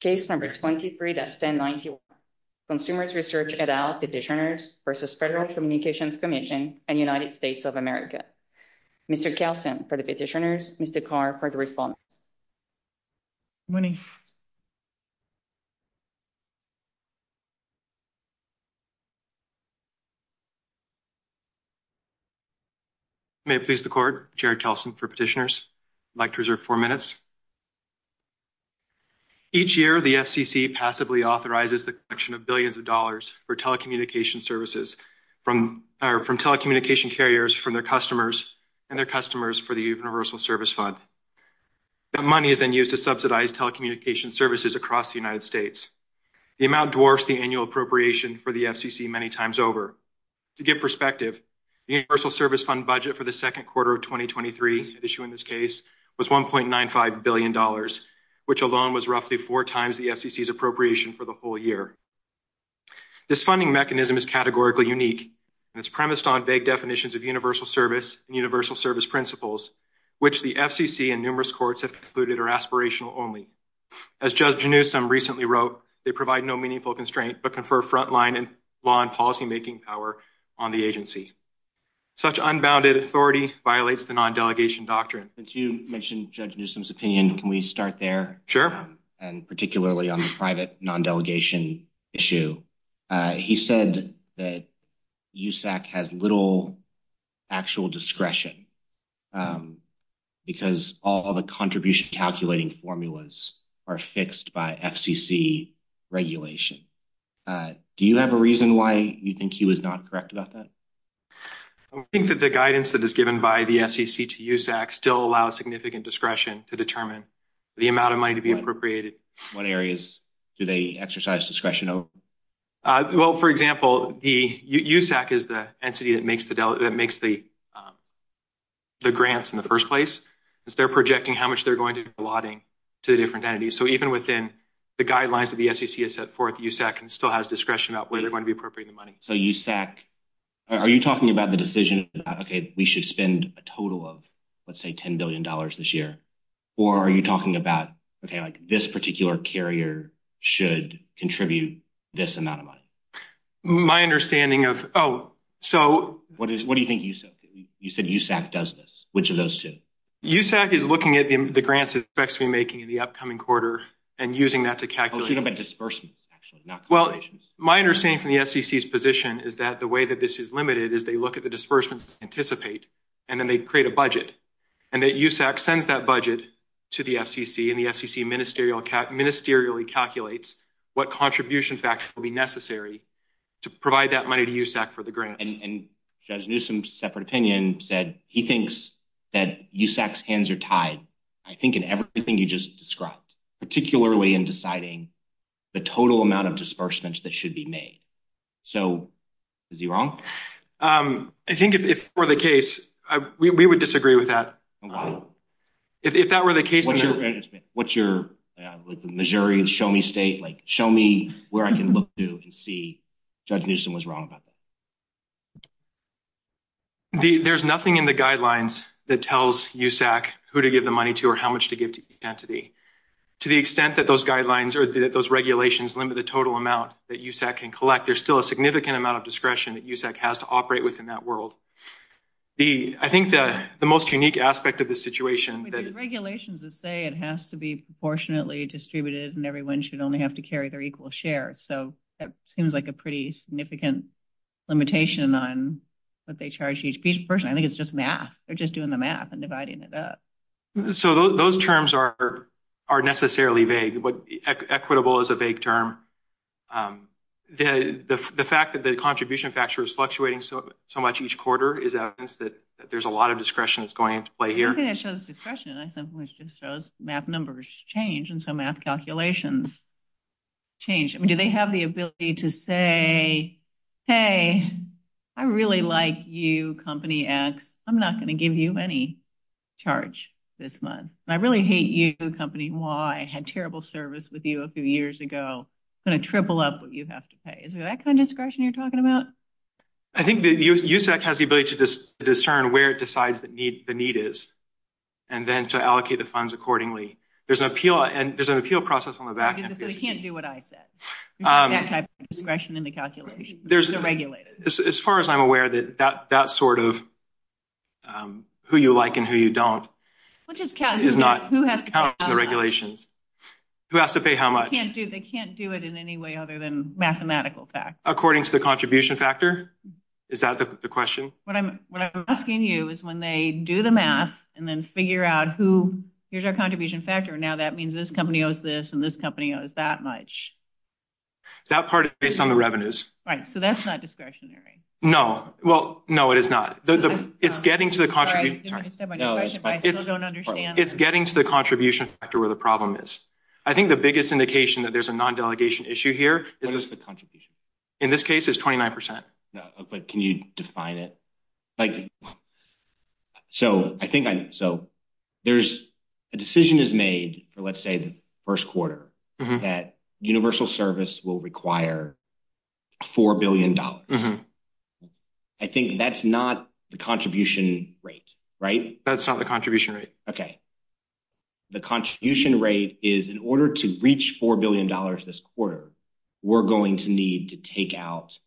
Case number 23-1091, Consumers' Research et al. Petitioners vs. Federal Communications Commission and United States of America. Mr. Kelsen for the petitioners, Mr. Carr for the response. May it please the court, Jared Kelsen for petitioners. I'd like to reserve four minutes. Each year, the FCC passively authorizes the collection of billions of dollars for telecommunication services from telecommunication carriers from their customers and their customers for the Universal Service Fund. The money is then used to subsidize telecommunication services across the United States. The amount dwarfs the annual appropriation for the FCC many times over. To give perspective, the Universal Service Fund budget for the second quarter of 2023, in this case, was $1.95 billion, which alone was roughly four times the FCC's appropriation for the whole year. This funding mechanism is categorically unique and it's premised on vague definitions of universal service and universal service principles, which the FCC and numerous courts have concluded are aspirational only. As Judge Newsom recently wrote, they provide no meaningful constraint but confer frontline in law and policymaking power on the agency. Such unbounded authority violates the non-delegation doctrine. Since you mentioned Judge Newsom's opinion, can we start there? Sure. And particularly on the private non-delegation issue, he said that USAC has little actual discretion because all of the contribution calculating formulas are fixed by FCC regulation. Do you have a reason why you think he was not correct about that? I think that the guidance that is given by the FCC to USAC still allows significant discretion to determine the amount of money to be appropriated. What areas do they exercise discretion over? Well, for example, USAC is the entity that makes the grants in the first place, because they're projecting how much they're going to be allotting to different entities. So even within the guidelines that the FCC has set forth, USAC still has discretion about whether they're talking about the decision about, okay, we should spend a total of, let's say, $10 billion this year, or are you talking about, okay, like this particular carrier should contribute this amount of money? My understanding of... Oh, so... What do you think USAC... You said USAC does this. Which of those two? USAC is looking at the grants it expects to be making in the upcoming quarter and using that to calculate... What do you think about disbursement, actually? Well, my understanding from the FCC's position is that the way that this is limited is they look at the disbursement to anticipate, and then they create a budget, and that USAC sends that budget to the FCC, and the FCC ministerially calculates what contribution facts will be necessary to provide that money to USAC for the grant. And Judge Newsome's separate opinion said he thinks that USAC's hands are tied, I think, in everything you just described, particularly in deciding the total amount of disbursements that should be made. So, is he wrong? I think if it were the case, we would disagree with that. If that were the case... What's your... Like the majority of the show me state, like, show me where I can look to see if Judge Newsome was wrong about that. There's nothing in the guidelines that tells USAC who to give the money to or how much to give to that those regulations limit the total amount that USAC can collect. There's still a significant amount of discretion that USAC has to operate within that world. I think that the most unique aspect of the situation that... With the regulations that say it has to be proportionately distributed and everyone should only have to carry their equal share, so that seems like a pretty significant limitation on what they charge each person. I think it's just math. They're just doing the math and dividing it up. So, those terms are necessarily vague, but equitable is a vague term. The fact that the contribution factor is fluctuating so much each quarter is evidence that there's a lot of discretion that's going into play here. I think it shows discretion. I think it just shows math numbers change and so math calculations change. I mean, do they have the ability to say, hey, I really like you, Company X. I'm not going to give you any charge this month. I really hate you, Company Y. I had terrible service with you a few years ago. I'm going to triple up what you have to pay. Is it that kind of discretion you're talking about? I think USAC has the ability to discern where it decides the need is and then to allocate the funds accordingly. There's an appeal process on the back end. We can't do what I said. We don't have that type of discretion in the calculations. As far as I'm aware, that sort of who you like and who you don't is not counted in the regulations. Who has to pay how much? They can't do it in any way other than mathematical facts. According to the contribution factor? Is that the question? What I'm asking you is when they do the math and then figure out who, here's our contribution factor. Now, that means this company owes this and this company owes that much. That part is based on the revenues. Right. That's not discretionary. No. No, it is not. It's getting to the contribution factor where the problem is. I think the biggest indication that there's a non-delegation issue here is the contribution. In this case, it's 29%. Can you define it? A decision is made for, let's say, the first quarter that universal service will require $4 billion. I think that's not the contribution rate, right? That's not the contribution rate. Okay. The contribution rate is in order to reach $4 billion this quarter, we're going to need to take out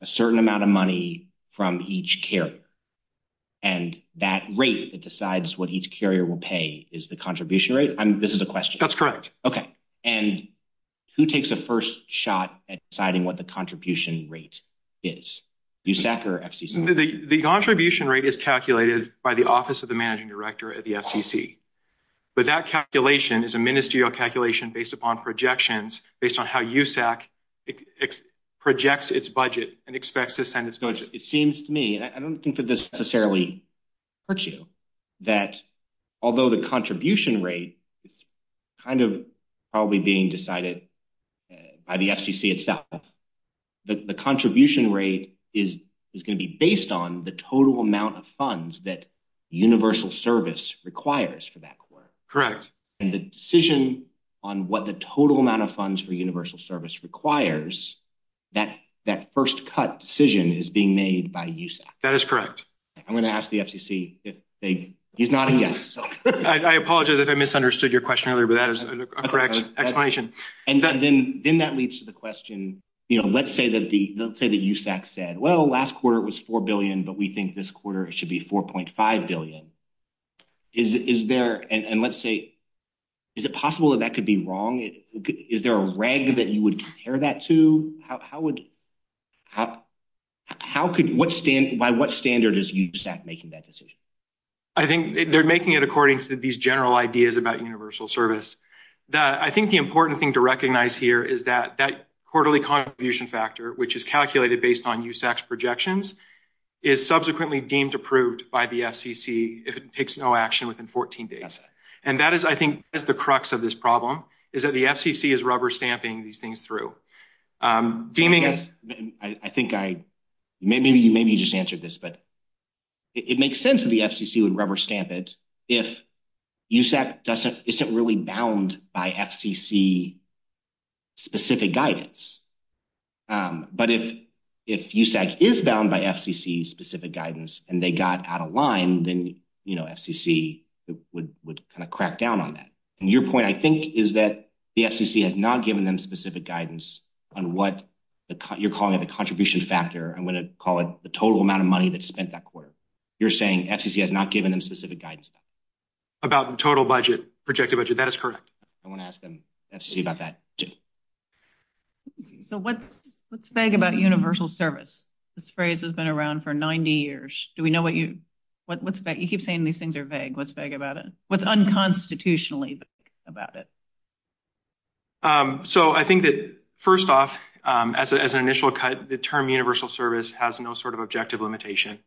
a certain amount of money from each carrier. That rate that decides what each carrier will pay is the contribution rate? This is a question. That's correct. Okay. Who takes the first shot at deciding what the contribution rate is? VSAC or FCC? The contribution rate is calculated by the Office of the Managing Director at the FCC. But that calculation is a ministerial calculation based upon projections, based on how VSAC projects its budget and expects to send its budget. It seems to me, I don't think that this necessarily hurts you, that although the contribution rate is kind of probably being decided by the FCC itself, the contribution rate is going to be based on the total amount of funds that universal service requires for that. Correct. And the decision on what the total amount of funds for universal service requires, that first cut decision is being made by VSAC. That is correct. I'm going to ask the FCC if they, he's nodding yes. I apologize if I misunderstood your question earlier, but that is a correct explanation. And then that leads to the question, let's say that VSAC said, well, last quarter it was $4 billion, but we think this quarter it should be $4.5 billion. Is there, and let's say, is it possible that that could be wrong? Is there a reg that you would compare that to? By what standard is VSAC making that decision? I think they're making it according to these general ideas about universal service. I think the important thing to recognize here is that that quarterly contribution factor, which is calculated based on USAC's projections, is subsequently deemed approved by the FCC if it takes no action within 14 days. And that is, I think, that's the crux of this problem, is that the FCC is rubber stamping these things through. I think I, maybe you just answered this, but it makes sense that the FCC would rubber stamp it if USAC isn't really bound by FCC-specific guidance. But if USAC is bound by FCC-specific guidance and they got out of line, then, you know, FCC would kind of crack down on that. And your point, I think, is that the FCC has not given them specific guidance on what you're calling the contribution factor. I'm going to call it the total amount of money that's spent that quarter. You're saying FCC has not given them specific guidance. About the total budget, projected budget. That is correct. I want to ask the FCC about that, too. So what's vague about universal service? This phrase has been around for 90 years. You keep saying these things are vague. What's vague about it? What's unconstitutionally vague about it? So I think that, first off, as an initial term, universal service has no sort of objective limitation.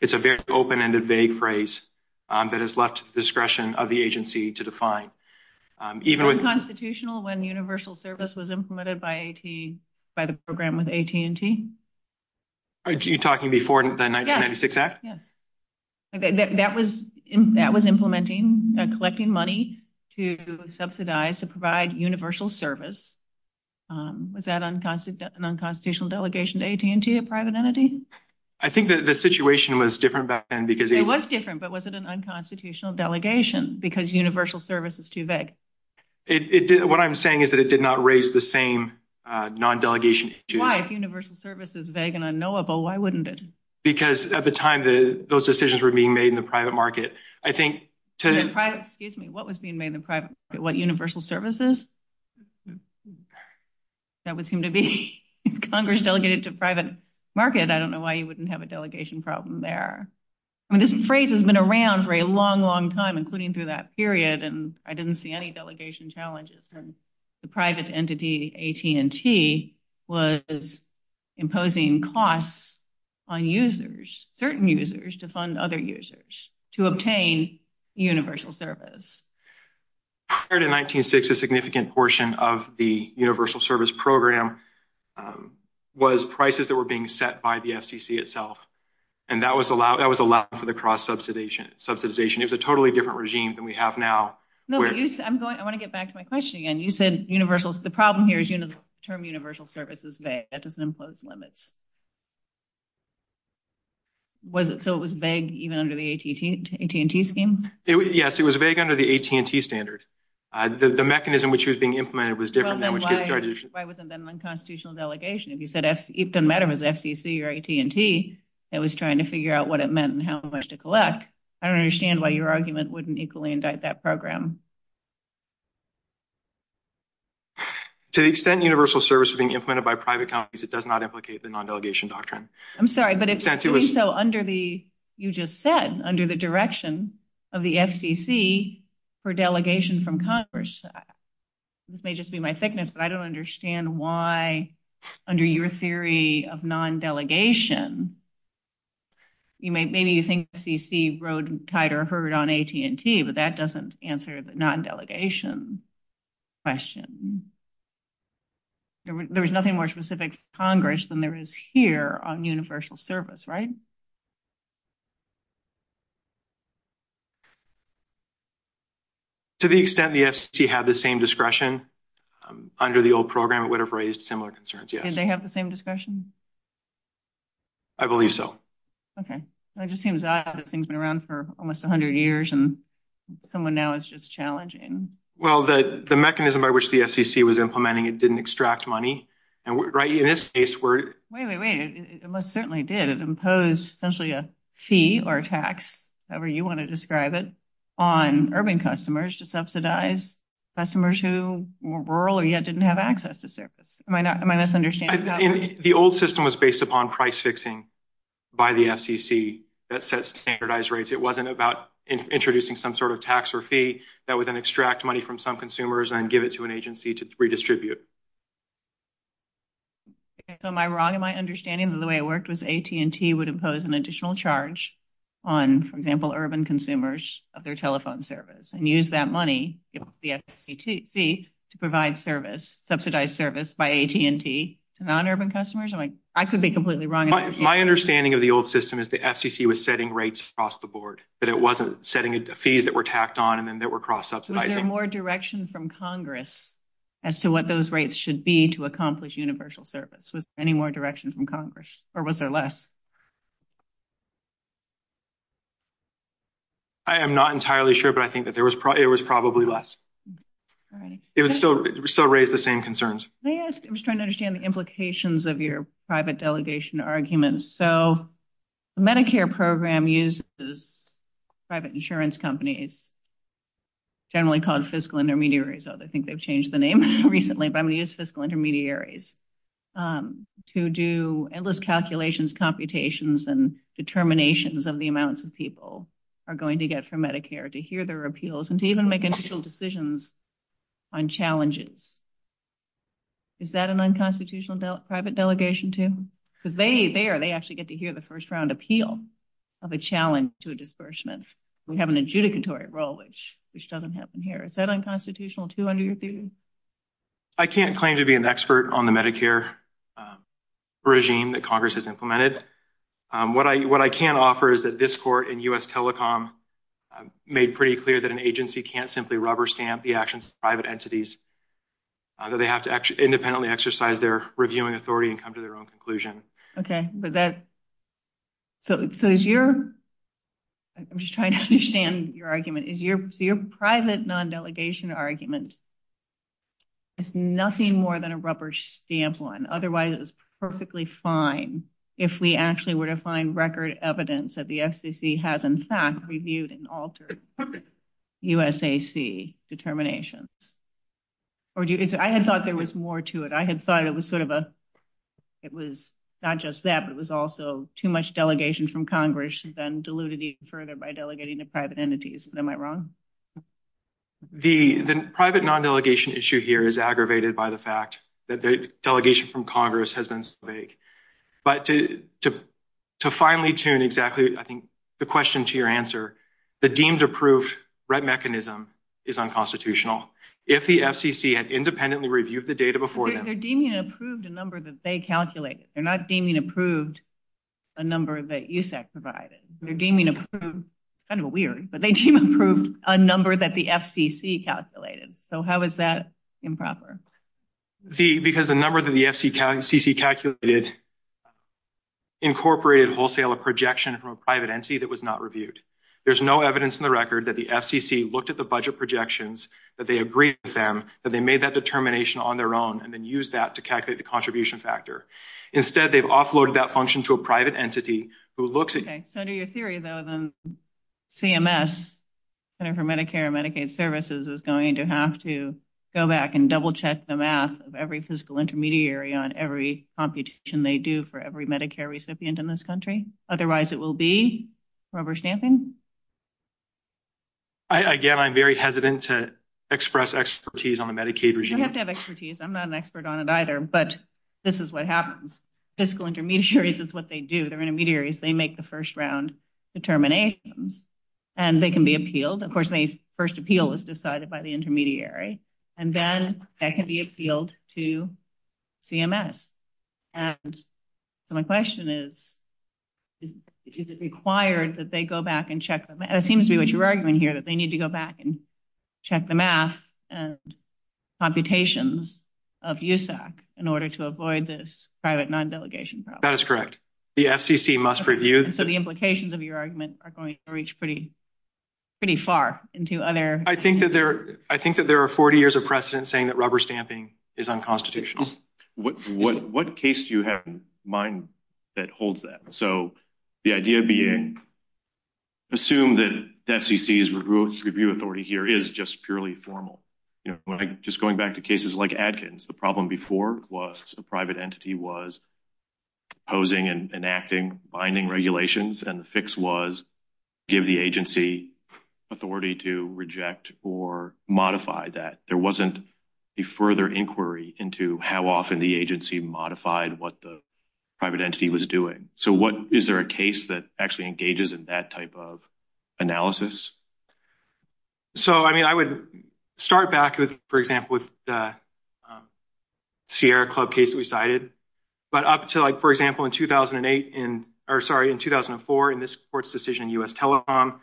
It's a very open-ended, vague phrase that is left to the discretion of the agency to define. Was it unconstitutional when universal service was implemented by the program with AT&T? You're talking before the 1996 act? Yes. That was implementing and collecting money to subsidize, to provide universal service. Was that an unconstitutional delegation to AT&T, a private entity? I think the situation was different back then. It was different, but was it an unconstitutional delegation because universal service is too vague? What I'm saying is that it did not raise the same non-delegation issue. Why? If universal service is vague and unknowable, why wouldn't it? Because at the time, those decisions were being made in the private market. In the private, excuse me, what was being made in the private, what, universal services? That would seem to be Congress delegated to private market. I don't know why you wouldn't have a delegation problem there. I mean, this phrase has been around for a long, long time, including through that period, and I didn't see any delegation challenges. The private entity, AT&T, was imposing costs on users, certain users to fund other users, to obtain universal service. Prior to 1960, a significant portion of the universal service program was prices that were being set by the FCC itself, and that was allowed for the cross-subsidization. It was a totally different regime than we have now. No, I want to get back to my question again. You said universal, the problem here is the term universal service is vague. That doesn't impose limits. So it was vague even under the AT&T scheme? Yes, it was vague under the AT&T standard. The mechanism which was being implemented was different than which this resolution- Why wasn't that an unconstitutional delegation? If you said it doesn't matter if it's FCC or AT&T, it was trying to figure out what it meant and how much to collect. I don't understand why your argument wouldn't equally indict that program. To the extent universal service was being implemented by private companies, it does not implicate the non-governmental entities. I'm sorry, but you just said under the direction of the FCC for delegation from Congress. This may just be my thickness, but I don't understand why under your theory of non-delegation, maybe you think the FCC rode tight on AT&T, but that doesn't answer the non-delegation question. There's nothing more specific to Congress than there is here on universal service, right? To the extent the FCC had the same discretion under the old program, it would have raised similar concerns, yes. Did they have the same discretion? I believe so. Okay. It just seems odd that things have been around for almost 100 years and someone now is just challenging. Well, the mechanism by which the FCC was implementing it didn't extract money. Wait, wait, wait. It most certainly did. It imposed essentially a fee or a tax, however you want to describe it, on urban customers to subsidize customers who were rural or yet didn't have access to service. Am I misunderstanding? The old system was based upon price fixing by the FCC that set standardized rates. It wasn't about introducing some sort of tax or fee that would then extract money from some consumers and give it to an agency to redistribute. Am I wrong in my understanding that the way it worked was AT&T would impose an additional charge on, for example, urban consumers of their telephone service and use that money, the FCC, to provide subsidized service by AT&T to non-urban customers? I could be completely wrong. My understanding of the old system is the FCC was setting rates across the fees that were tacked on and then there were cross-ups. Was there more direction from Congress as to what those rates should be to accomplish universal service? Was there any more direction from Congress or was there less? I am not entirely sure, but I think that there was probably less. It would still raise the same concerns. May I ask, I'm just trying to understand the implications of your private delegation arguments. Medicare program uses private insurance companies, generally called fiscal intermediaries. I think they've changed the name recently, but I'm going to use fiscal intermediaries to do endless calculations, computations, and determinations of the amounts of people are going to get from Medicare to hear their appeals and to even make initial decisions on challenges. Is that an unconstitutional private delegation, too? Because there, they actually get to hear the first-round appeal of a challenge to a disbursement. We have an adjudicatory role, which doesn't happen here. Is that unconstitutional, too, under your view? I can't claim to be an expert on the Medicare regime that Congress has implemented. What I can offer is that this court and U.S. Telecom made pretty clear that an agency can't simply rubber stamp the actions of private entities, that they have to independently exercise their reviewing authority and come to their own conclusion. Okay. I'm just trying to understand your argument. Your private non-delegation argument is nothing more than a rubber stamp one. Otherwise, it's perfectly fine if we actually were to find record evidence that the FCC has, in fact, reviewed and altered USAC determinations. I had thought there was more to it. I had thought it was not just that, but it was also too much delegation from Congress, and then diluted even further by delegating to private entities. Am I wrong? The private non-delegation issue here is aggravated by the fact that the finally tune exactly, I think, the question to your answer, the deemed approved RET mechanism is unconstitutional. If the FCC had independently reviewed the data before... They're deeming approved a number that they calculated. They're not deeming approved a number that USAC provided. They're deeming approved, kind of weird, but they deem approved a number that the FCC calculated. How is that improper? Because the number that the FCC calculated incorporated wholesale a projection from a private entity that was not reviewed. There's no evidence in the record that the FCC looked at the budget projections, that they agreed with them, that they made that determination on their own, and then used that to calculate the contribution factor. Instead, they've offloaded that function to a private entity who looks at... Okay. So, to your theory, though, then CMS, Center for Medicare and Medicaid Services, is going to have to go back and double check the math of every fiscal intermediary on every computation they do for every Medicare recipient in this country? Otherwise, it will be rubber stamping? Again, I'm very hesitant to express expertise on Medicaid regime. You have to have expertise. I'm not an expert on it either, but this is what happens. Fiscal intermediaries is what they do. They're intermediaries. They make the first round determinations, and they can be appealed. Of course, the first appeal is decided by the intermediary, and then that can be appealed to CMS. My question is, is it required that they go back and check... It seems to be what you're arguing here, that they need to go back and check the math and computations of USAC in order to avoid this private non-delegation problem. That's correct. The FCC must review... So, the implications of your argument are going to reach pretty far into other... I think that there are 40 years of precedent saying that rubber stamping is unconstitutional. What case do you have in mind that holds that? So, the idea being, assume that FCC's review authority here is just purely formal. Just going back to cases like Adkins, the problem before was the private entity was opposing and enacting binding regulations, and the fix was give the agency authority to reject or modify that. There wasn't a further inquiry into how often the agency modified what the private entity was doing. So, is there a case that actually engages in that type of analysis? So, I mean, I would start back with, for example, with the Sierra Club case that we cited. But up to, for example, in 2008, or sorry, in 2004, in this court's decision in US Telecom,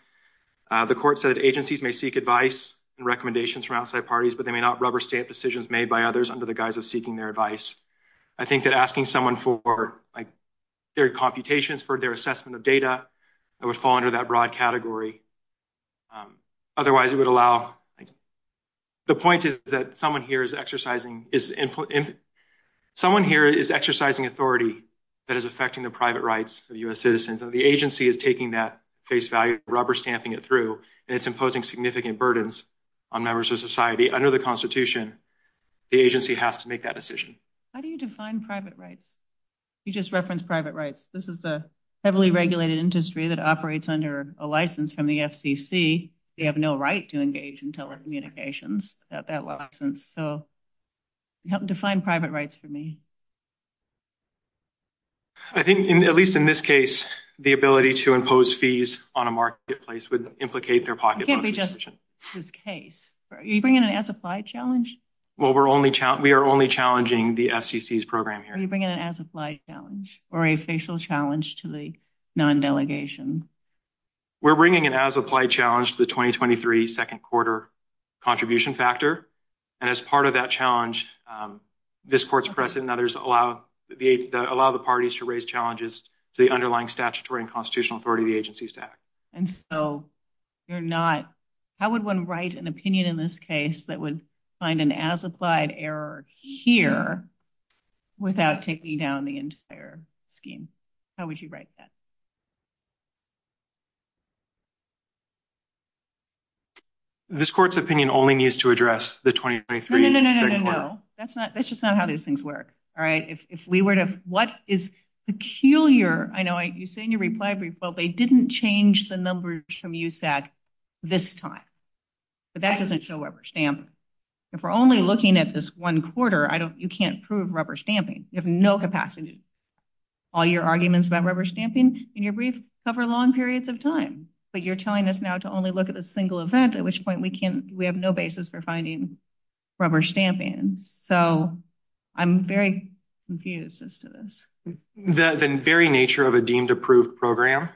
the court said agencies may seek advice and recommendations from outside parties, but they may not rubber stamp decisions made by others under the guise of seeking their advice. I think that asking someone for their computations, for their assessment of data, that would fall under that broad category. Otherwise, it would allow, the point is that someone here is exercising authority that is affecting the private rights of US citizens, and the agency is taking that face value, rubber stamping it through, and it's imposing significant burdens on members of society. Under the Constitution, the agency has to make that decision. How do you define private rights? You operate under a license from the FCC. You have no right to engage in telecommunications without that license. So, you have to define private rights for me. I think, at least in this case, the ability to impose fees on a marketplace would implicate their pocket money. It can't be just this case. Are you bringing an SFI challenge? Well, we are only challenging the FCC's program here. Are you bringing an as-applied challenge or a facial challenge to the non-delegation? We're bringing an as-applied challenge to the 2023 second quarter contribution factor. As part of that challenge, this court's precedent and others allow the parties to raise challenges to the underlying statutory and constitutional authority of the agency's tax. How would one write an opinion in this case that would find an as-applied error here without taking down the entire scheme? How would you write that? This court's opinion only needs to address the 2023 second quarter. No, no, no. That's just not how these things work. All right? If we were to... What is peculiar... I know you say in your reply brief, but they didn't change the numbers from USAT this time. So, that doesn't show up or stamp. If we're only looking at this one quarter, you can't prove rubber stamping. You have no capacity to do that. All your arguments about rubber stamping in your brief cover long periods of time. But you're telling us now to only look at a single event, at which point we have no basis for finding rubber stamping. So, I'm very confused as to this. The very nature of a deemed approved program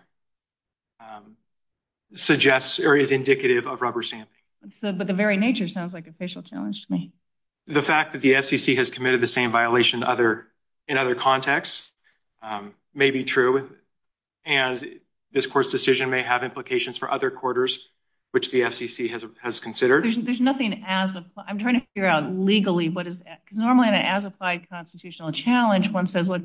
suggests or is indicative of rubber stamping. But the very nature sounds like a facial challenge to me. The fact that the FCC has committed the same violation in other contexts may be true. And this court's decision may have implications for other quarters, which the FCC has considered. There's nothing as... I'm trying to figure out legally what is... Because normally in an as-applied constitutional challenge, one says, what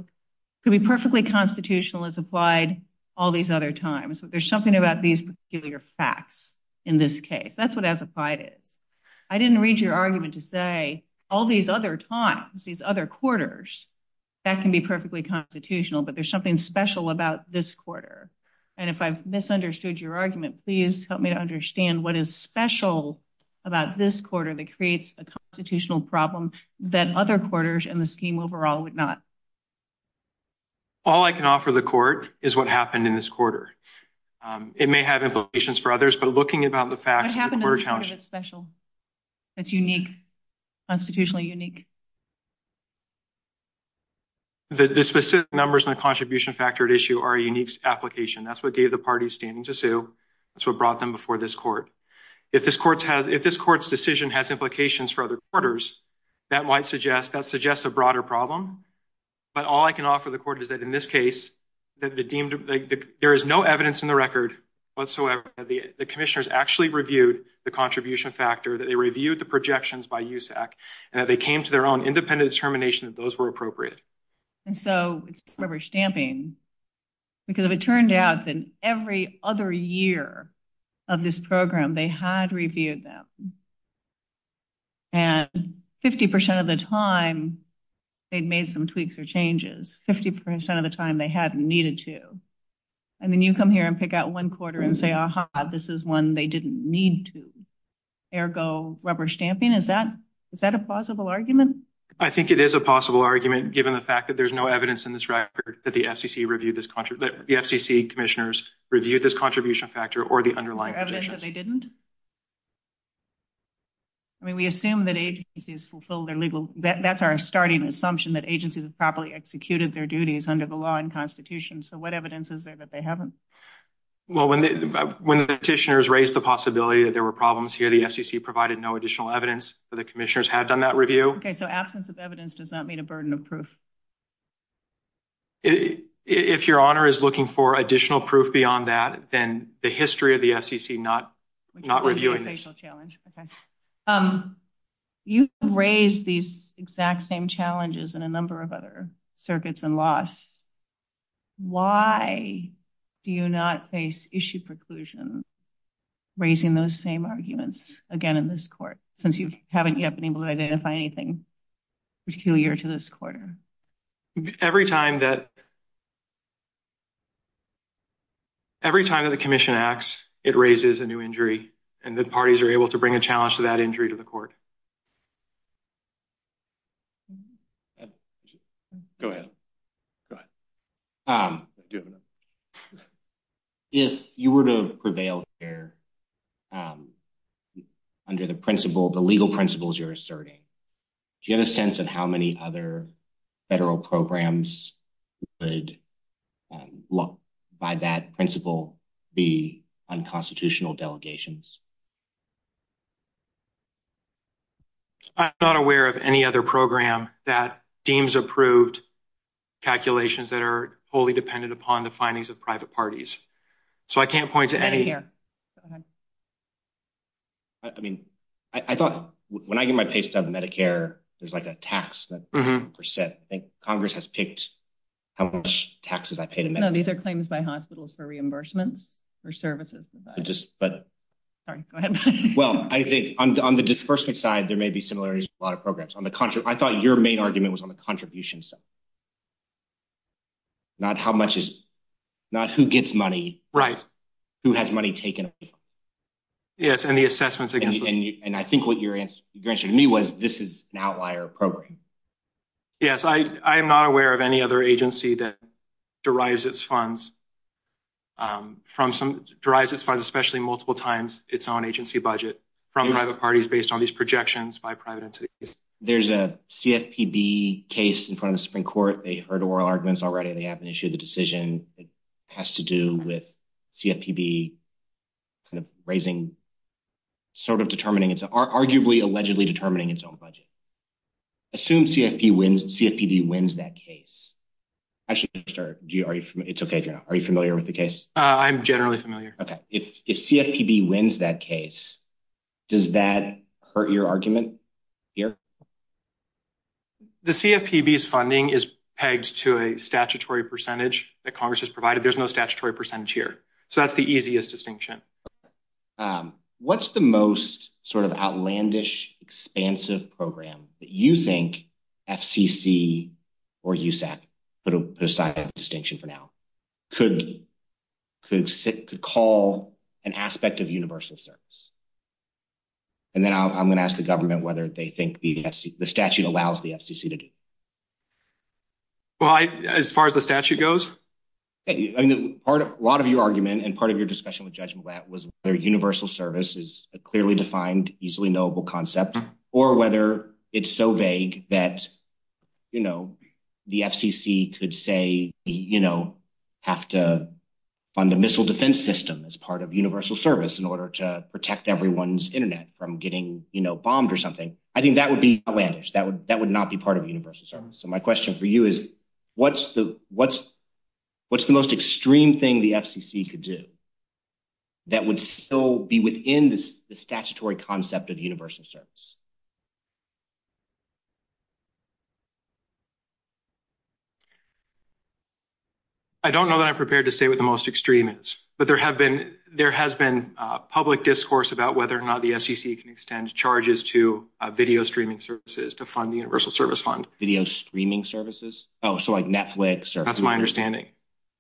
could be perfectly constitutional as applied all these other times. But there's something about these particular facts in this case. That's what as-applied is. I didn't read your argument to say all these other times, these other quarters, that can be perfectly constitutional. But there's something special about this quarter. And if I've misunderstood your argument, please help me understand what is special about this quarter that creates a constitutional problem that other quarters in the scheme overall would not. All I can offer the court is what happened in this case. It may have implications for others, but looking about the facts... What happened in this case that's special, that's unique, constitutionally unique? The specific numbers in the contribution factor at issue are a unique application. That's what gave the parties standing to sue. That's what brought them before this court. If this court's decision has implications for other quarters, that might suggest... That suggests a broader problem. But all I can offer the court is that in this case, there is no evidence in the record whatsoever that the commissioners actually reviewed the contribution factor, that they reviewed the projections by USAC, and that they came to their own independent determination that those were appropriate. And so it's leverage stamping. Because if it turned out that every other year of this program, they had reviewed them. And 50% of the time, they'd made some tweaks or and say, aha, this is one they didn't need to. Ergo, rubber stamping. Is that a plausible argument? I think it is a possible argument, given the fact that there's no evidence in this record that the FCC commissioners reviewed this contribution factor or the underlying... Evidence that they didn't? I mean, we assume that agencies fulfilled their legal... That's our starting assumption, that agencies have properly executed their duties under the law and constitution. So evidence is there that they haven't? Well, when the petitioners raised the possibility that there were problems here, the FCC provided no additional evidence that the commissioners had done that review. Okay. So absence of evidence does not mean a burden of proof. If your honor is looking for additional proof beyond that, then the history of the FCC not reviewing this. You've raised these exact same challenges in a number of other circuits and laws. Why do you not face issue preclusions raising those same arguments again in this court, since you haven't yet been able to identify anything peculiar to this quarter? Every time that the commission acts, it raises a new injury, and the parties are able to bring a challenge to that injury to the court. Okay. Go ahead. Go ahead. If you were to prevail here under the legal principles you're asserting, do you have a sense of how many other federal programs would, by that principle, be unconstitutional delegations? I'm not aware of any other program that deems approved calculations that are fully dependent upon the findings of private parties. So I can't point to any- Right here. Go ahead. I mean, I thought, when I get my pace down to Medicare, there's like a tax, like 50%. I think Congress has picked how much taxes I pay to Medicare. No, these are claims by hospitals for reimbursement for services. Sorry. Go ahead. Well, I think on the disbursement side, there may be similarities with a lot of programs. I thought your main argument was on the contribution side, not how much is, not who gets money, who has money taken. Yes. And the assessments against- And I think what you mentioned to me was this is an outlier program. Yes. I am not aware of any other agency that derives its funds, derives its funds, especially multiple times, its own agency budget from private parties based on these projections by private entities. There's a CFPB case in front of the Supreme Court. They heard oral arguments already. They haven't issued the decision. It has to do with CFPB raising, sort of determining, arguably, allegedly determining its own budget. Assume CFPB wins that case. Actually, are you familiar with the case? I'm generally familiar. Okay. If CFPB wins that case, does that hurt your argument here? The CFPB's funding is pegged to a statutory percentage that Congress has provided. There's no statutory percentage here. So that's the easiest distinction. Okay. What's the most sort of outlandish, expansive program that you think FCC or USAC, put a precise distinction for now, could call an aspect of universal service? And then I'm going to ask the government whether they think the statute allows the FCC to do. Well, as far as the statute goes? I mean, a lot of your argument and part of your discussion with Judge Blatt was their universal service is a clearly defined, easily knowable concept, or whether it's so vague that the FCC could say, have to fund a missile defense system as part of universal service in order to protect everyone's internet from getting bombed or something. I think that would be outlandish. That would not be part of universal service. So my question for you is, what's the most extreme thing the FCC could do that would still be within the statutory concept of universal service? I don't know that I'm prepared to say what the most extreme is, but there has been a public discourse about whether or not the FCC can extend charges to video streaming services to fund the universal service fund. Video streaming services? Oh, so like Netflix or-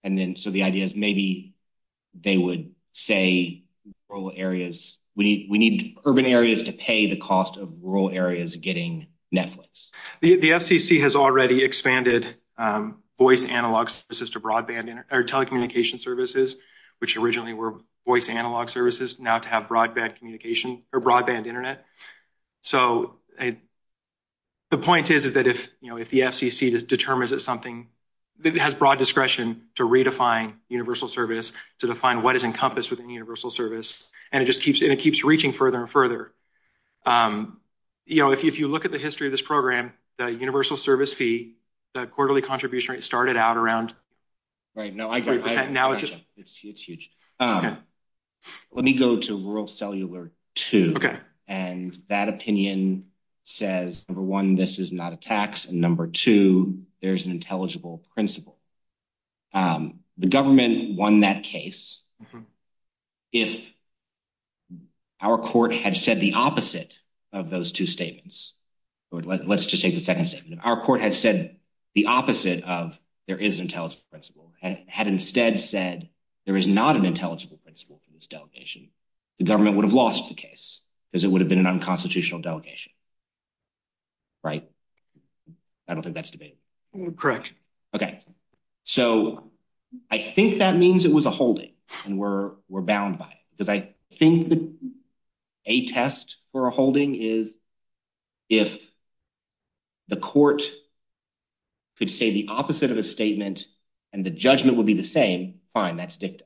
And then, so the idea is maybe they would say rural areas, we need urban areas to pay the cost of rural areas getting Netflix. The FCC has already expanded voice analog services to broadband or telecommunication services, which originally were voice analog services, now to have broadband communication or broadband internet. So the point is that if the FCC determines that something has broad discretion to redefine universal service, to define what is encompassed within universal service, and it just keeps reaching further and further. If you look at the history of this program, the universal service fee, the quarterly contribution rate started out around- Right. No, I got it. It's huge. Let me go to rural cellular two. And that opinion says, number one, this is not a tax, and number two, there's an intelligible principle. The government won that case if our court had said the opposite of those two statements. Let's just take the second sentence. Our court has said the opposite of there is an intelligible principle, had instead said there is not an intelligible principle for this delegation, the government would have lost the case, because it would have been an unconstitutional delegation. Right? I don't think that's debatable. Correct. Okay. So I think that means it was a holding, and we're bound by it, because I think a test for a holding is if the court could say the opposite of a statement and the judgment would be the same, fine, that's dicta.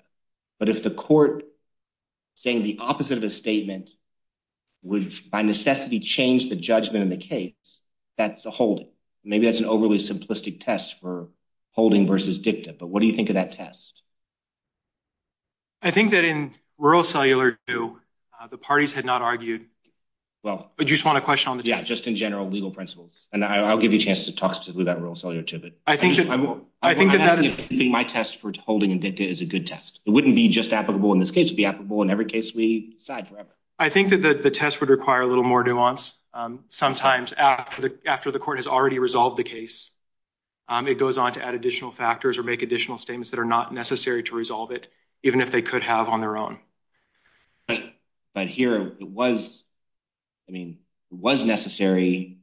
But if the court saying the opposite of a statement would by necessity change the judgment in the case, that's a holding. Maybe that's an overly simplistic test for holding versus dicta. But what do you think of that test? I think that in rural cellular two, the parties had not argued. Well- But you just want a question on the- Yeah, just in general, legal principles. And I'll give you a chance to talk to that rural cellular two, but- I think that- My test for holding and dicta is a good test. It wouldn't be just applicable in this case, it'd be applicable in every case we decide forever. I think that the test would require a little more nuance. Sometimes after the court has already resolved the case, it goes on to add additional factors or make additional statements that are not necessary to resolve it, even if they could have on their own. But here, it was necessary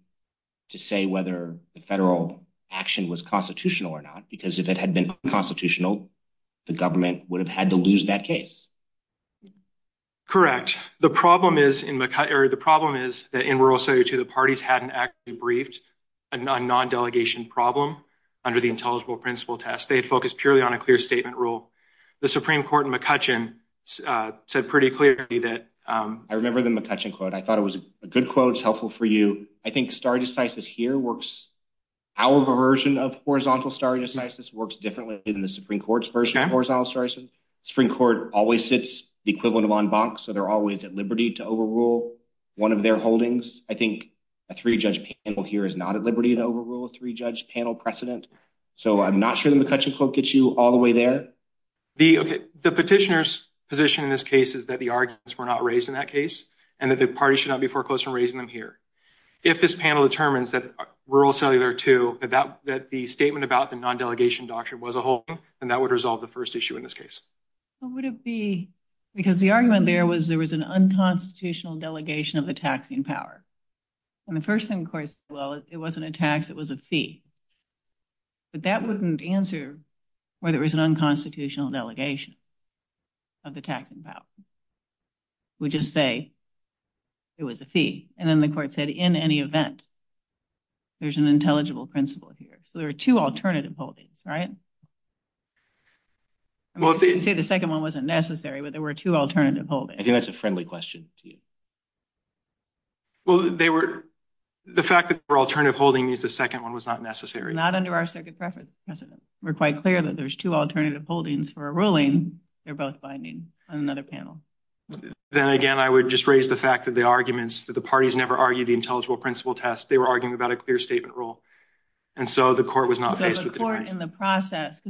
to say whether the federal action was constitutional or not, because if it had been unconstitutional, the government would have had to lose that case. Correct. The problem is in rural cellular two, the parties hadn't actually briefed a non-delegation problem under the intelligible principle test. They'd focus purely on a clear statement rule. The Supreme Court in McCutcheon said pretty clearly that- I remember the McCutcheon quote. I thought it was a good quote, it's helpful for you. I think stare decisis here works- our version of horizontal stare decisis works differently than the Supreme Court's version of horizontal stare decisis. The Supreme Court always sits the equivalent of en banc, so they're always at liberty to overrule one of their holdings. I think a three-judge panel here is not at liberty to overrule a three-judge panel precedent, so I'm not sure the McCutcheon quote gets you all the way there. The petitioner's position in this case is that the arguments were not raised in that case, and that the party should not be foreclosed on raising them here. If this panel determines that rural cellular two, that the statement about the non-delegation doctrine was a holding, then that would resolve the first issue in this case. What would it be? Because the argument there was there was an unconstitutional delegation of the taxing power. The first thing, of course, was it wasn't a tax, it was a fee. But that wouldn't answer whether it was an unconstitutional delegation of the taxing power. We just say it was a fee. And then the court said, in any event, there's an intelligible principle here. So there are two alternative holdings, right? Well, I didn't say the second one wasn't necessary, but there were two alternative holdings. I think that's a friendly question. Well, the fact that there were alternative holdings means the second one was not necessary. Not under our circuit preference precedent. We're quite clear that there's two alternative holdings for a ruling. They're both binding on another panel. Then again, I would just raise the fact that the arguments, that the parties never argued the intelligible principle test. They were arguing about a clear statement rule. And so the court was not faced with that. The court in the process,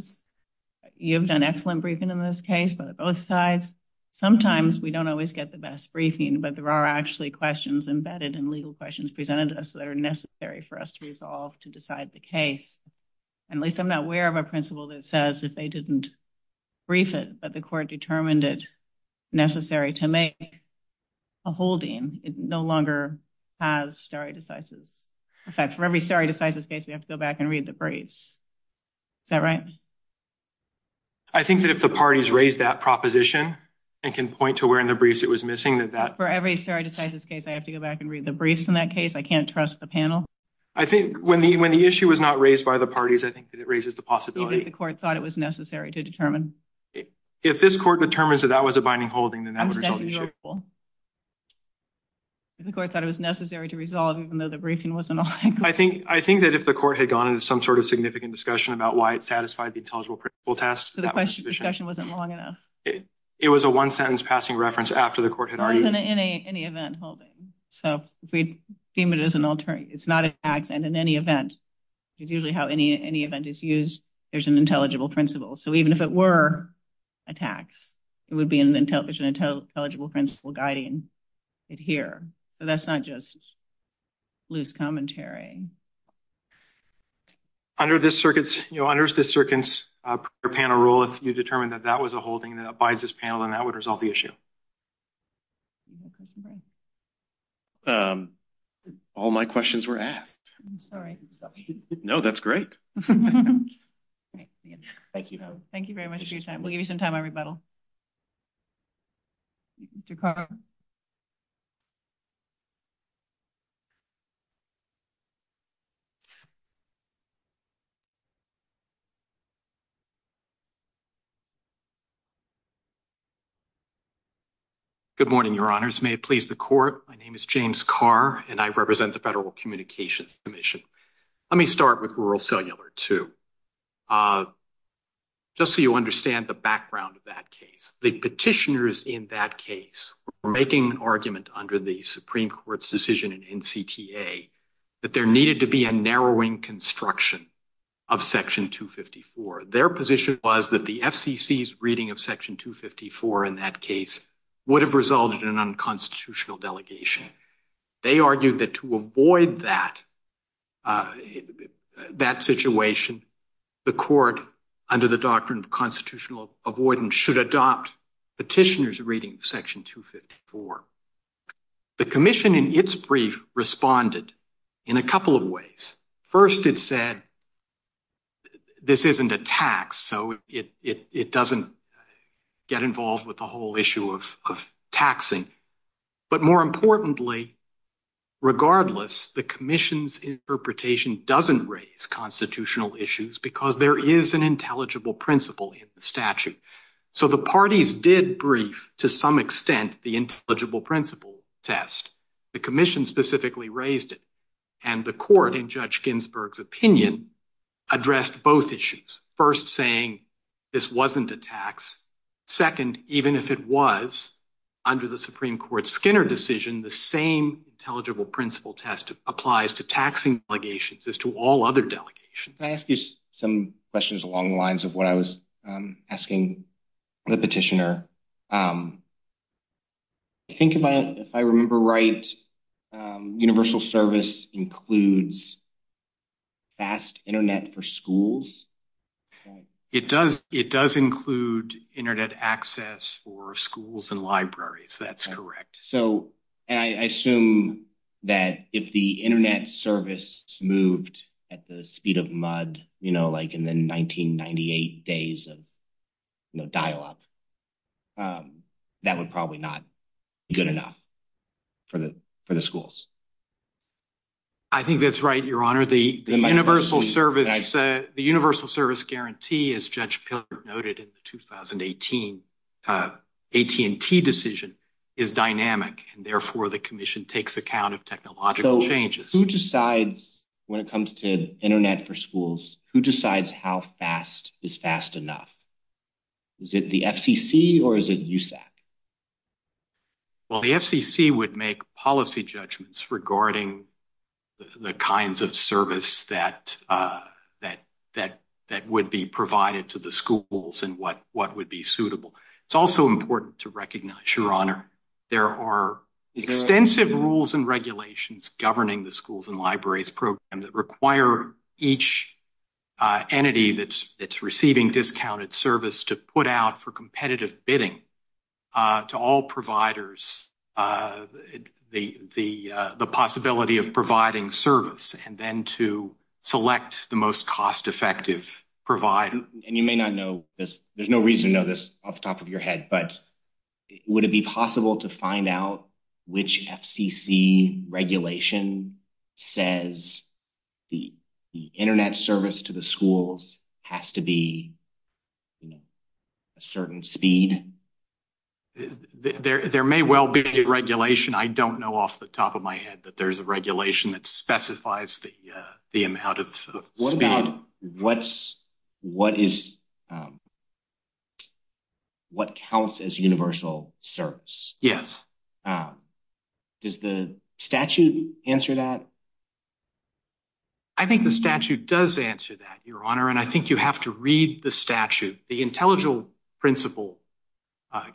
you've done excellent briefing in this case, but both sides, sometimes we don't always get the best briefing, but there are actually questions embedded in legal questions presented to us that are necessary for us to resolve to decide the case. At least I'm aware of a principle that says that they didn't brief it, but the court determined it necessary to make a holding. It no longer has stare decisis. In fact, for every stare decisis case, we have to go back and read the briefs. Is that right? I think that if the parties raised that proposition and can point to where in the briefs it was missing that that- For every stare decisis case, I have to go back and read the briefs in that case. I can't trust the panel. I think when the issue was not raised by the parties, I think that it raises the possibility. Even if the court thought it was necessary to determine? If this court determines that that was a binding holding, then that would result in- If the court thought it was necessary to resolve even though the briefing wasn't- I think that if the court had gone into some sort of significant discussion about why it satisfied the intelligible principle test- So the discussion wasn't long enough? It was a one-sentence passing reference after the court had argued- It wasn't in any event holding. So if we deem it as an alternate, it's not an accident in any event. It's usually how any event is used. There's an intelligible principle. So even if it were a tax, it would be an intelligible principle guiding it here. But that's not just loose commentary. Under this circuit's panel rule, if you determined that that was a holding that abides this panel, then that would resolve the No, that's great. Thank you. Thank you very much for your time. We'll give you some time to rebuttal. Good morning, your honors. May it please the court. My name is James Carr, and I represent the Federal Communications Commission. Let me start with Rural Cellular 2, just so you understand the background of that case. The petitioners in that case were making an argument under the Supreme Court's decision in CTA that there needed to be a narrowing construction of Section 254. Their position was that the FCC's reading of Section 254 in that void that situation, the court under the doctrine of constitutional avoidance should adopt petitioners reading Section 254. The commission in its brief responded in a couple of ways. First, it said, this isn't a tax, so it doesn't get involved with the whole issue of taxing. But more importantly, regardless, the commission's interpretation doesn't raise constitutional issues because there is an intelligible principle in the statute. So the parties did brief, to some extent, the intelligible principle test. The commission specifically raised it, and the court, in Judge Ginsburg's opinion, addressed both issues. First, this wasn't a tax. Second, even if it was, under the Supreme Court's Skinner decision, the same intelligible principle test applies to taxing delegations as to all other delegations. Can I ask you some questions along the lines of what I was asking the petitioner? I think if I remember right, universal service includes fast internet for schools? It does include internet access for schools and libraries. That's correct. So I assume that if the internet service moved at the speed of mud, you know, like in the 1998 days of dial-up, that would probably not be good enough for the schools. I think that's right, Your Honor. The universal service guarantee, as Judge Pilgrim noted in the 2018 AT&T decision, is dynamic, and therefore the commission takes account of technological changes. Who decides, when it comes to internet for schools, who decides how fast is fast enough? Is it the FCC or is it USAC? Well, the FCC would make policy judgments regarding the kinds of service that would be provided to the schools and what would be suitable. It's also important to recognize, Your Honor, there are extensive rules and regulations governing the schools and libraries program that require each entity that's receiving discounted service to put out for competitive bidding to all providers the possibility of providing service and then to select the most cost-effective provider. And you may not know, there's no reason to know this off the top of your head, but would it be possible to find out which FCC regulation says the internet service to the schools has to be a certain speed? There may well be a regulation. I don't know off the top of my head that there's a regulation that specifies the amount of speed. What counts as universal service? Yes. Does the statute answer that? I think the statute does answer that, Your Honor, and I think you have to read the statute. The Intelligent Principle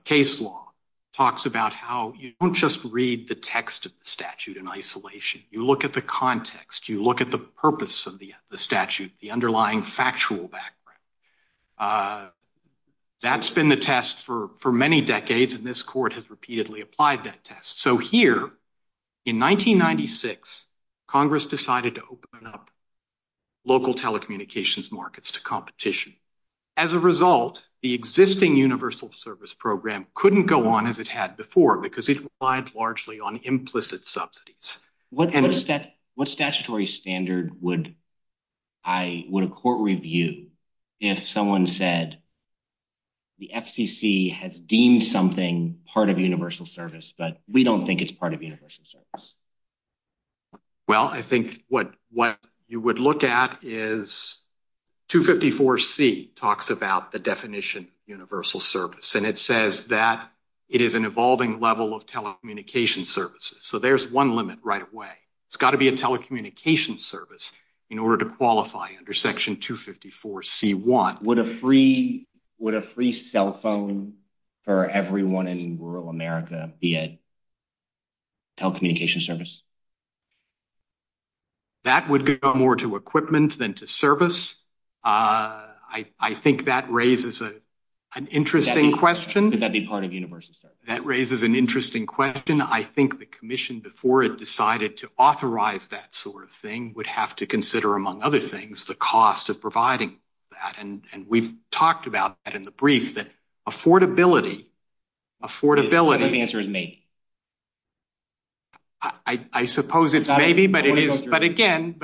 case law talks about how you don't just read the text of the statute in isolation. You look at the context. You look at the purpose of the statute, the underlying factual background. That's been the test for the FCC. The FCC repeatedly applied that test. So here, in 1996, Congress decided to open up local telecommunications markets to competition. As a result, the existing universal service program couldn't go on as it had before because it relied largely on implicit subsidies. What statutory standard would a court review if someone said the FCC has deemed something part of universal service, but we don't think it's part of universal service? Well, I think what you would look at is 254C talks about the definition universal service, and it says that it is an evolving level of telecommunication services. So there's one limit right away. It's got to be a telecommunication service in order to qualify under section 254C1. Would a free cell phone for everyone in rural America be a telecommunication service? That would go more to equipment than to service. I think that raises an interesting question. That raises an interesting question. I think the commission, before it decided to authorize that sort of thing, would have to consider, among other things, the cost of providing that. And we've talked about that in the brief, that affordability, affordability- That answer is me. I suppose it's maybe, but again,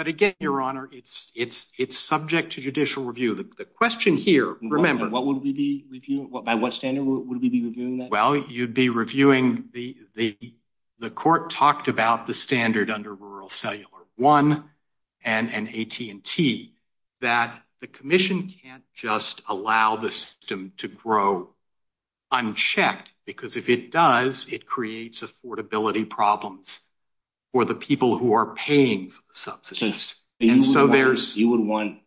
Your Honor, it's subject to judicial review. The question here, remember- What would we be reviewing? By what standard would we be reviewing that? Well, you'd be reviewing... The court talked about the standard under Rural Cellular 1 and AT&T, that the commission can't just allow the system to grow unchecked, because if it does, it creates affordability problems for the people who are paying for the subsistence. You would want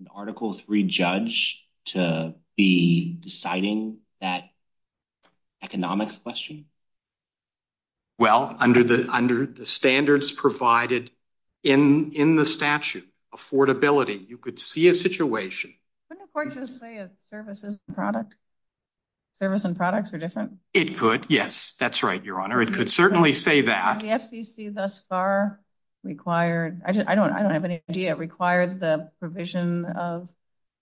an Article 3 judge to be deciding that the standards provided in the statute, affordability, you could see a situation- Couldn't the court just say a service and product? Service and products are different? It could, yes. That's right, Your Honor. It could certainly say that. The FDC thus far required... I don't have any idea. It required the provision of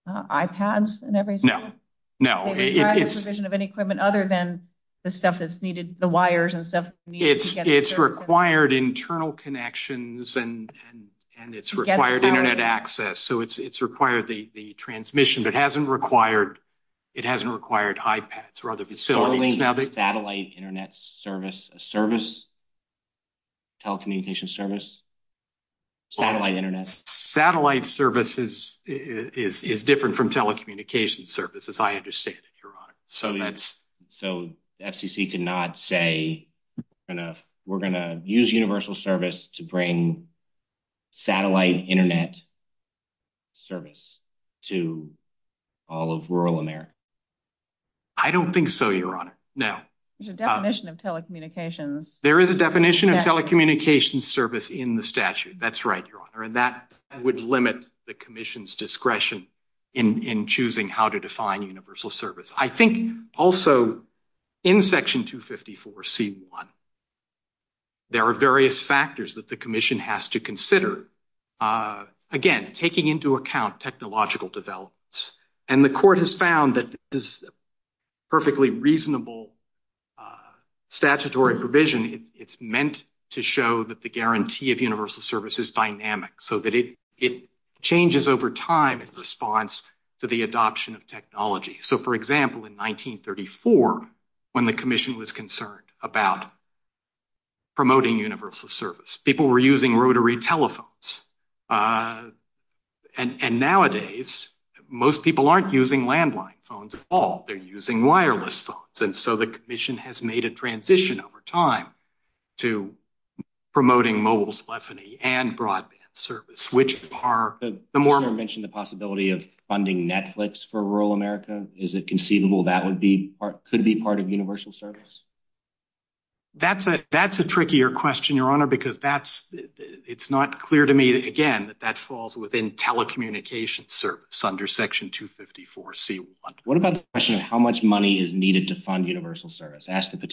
iPads and everything? No. No. It's- It required the provision of any equipment other than the stuff that's needed, the wires and stuff? It's required internal connections and it's required internet access, so it's required the transmission. It hasn't required iPads or other facilities. Satellite internet service, a service? Telecommunication service? Satellite internet? Satellite service is different from telecommunication service, as I understand it, Your Honor. So that's- So the FCC did not say, we're going to use universal service to bring satellite internet service to all of rural America? I don't think so, Your Honor. No. There's a definition of telecommunications- There is a definition of telecommunications service in the statute. That's right, Your Honor. And that would limit the commission's discretion in choosing how to define universal service. I think also in section 254C1, there are various factors that the commission has to consider. Again, taking into account technological developments. And the court has found that this is a perfectly reasonable statutory provision. It's meant to show that the guarantee of universal service is dynamic, so that it changes over time in response to the adoption of technology. So for example, in 1934, when the commission was concerned about promoting universal service, people were using rotary telephones. And nowadays, most people aren't using landline phones at all. They're using wireless phones. And so the commission has made a transition over time to promoting mobile and broadband service, which are the more- You mentioned the possibility of funding Netflix for rural America. Is it conceivable that could be part of universal service? That's a trickier question, Your Honor, because it's not clear to me, again, that that falls within telecommunications service under section 254C1. What about the question of how much money is needed to fund universal service? I asked the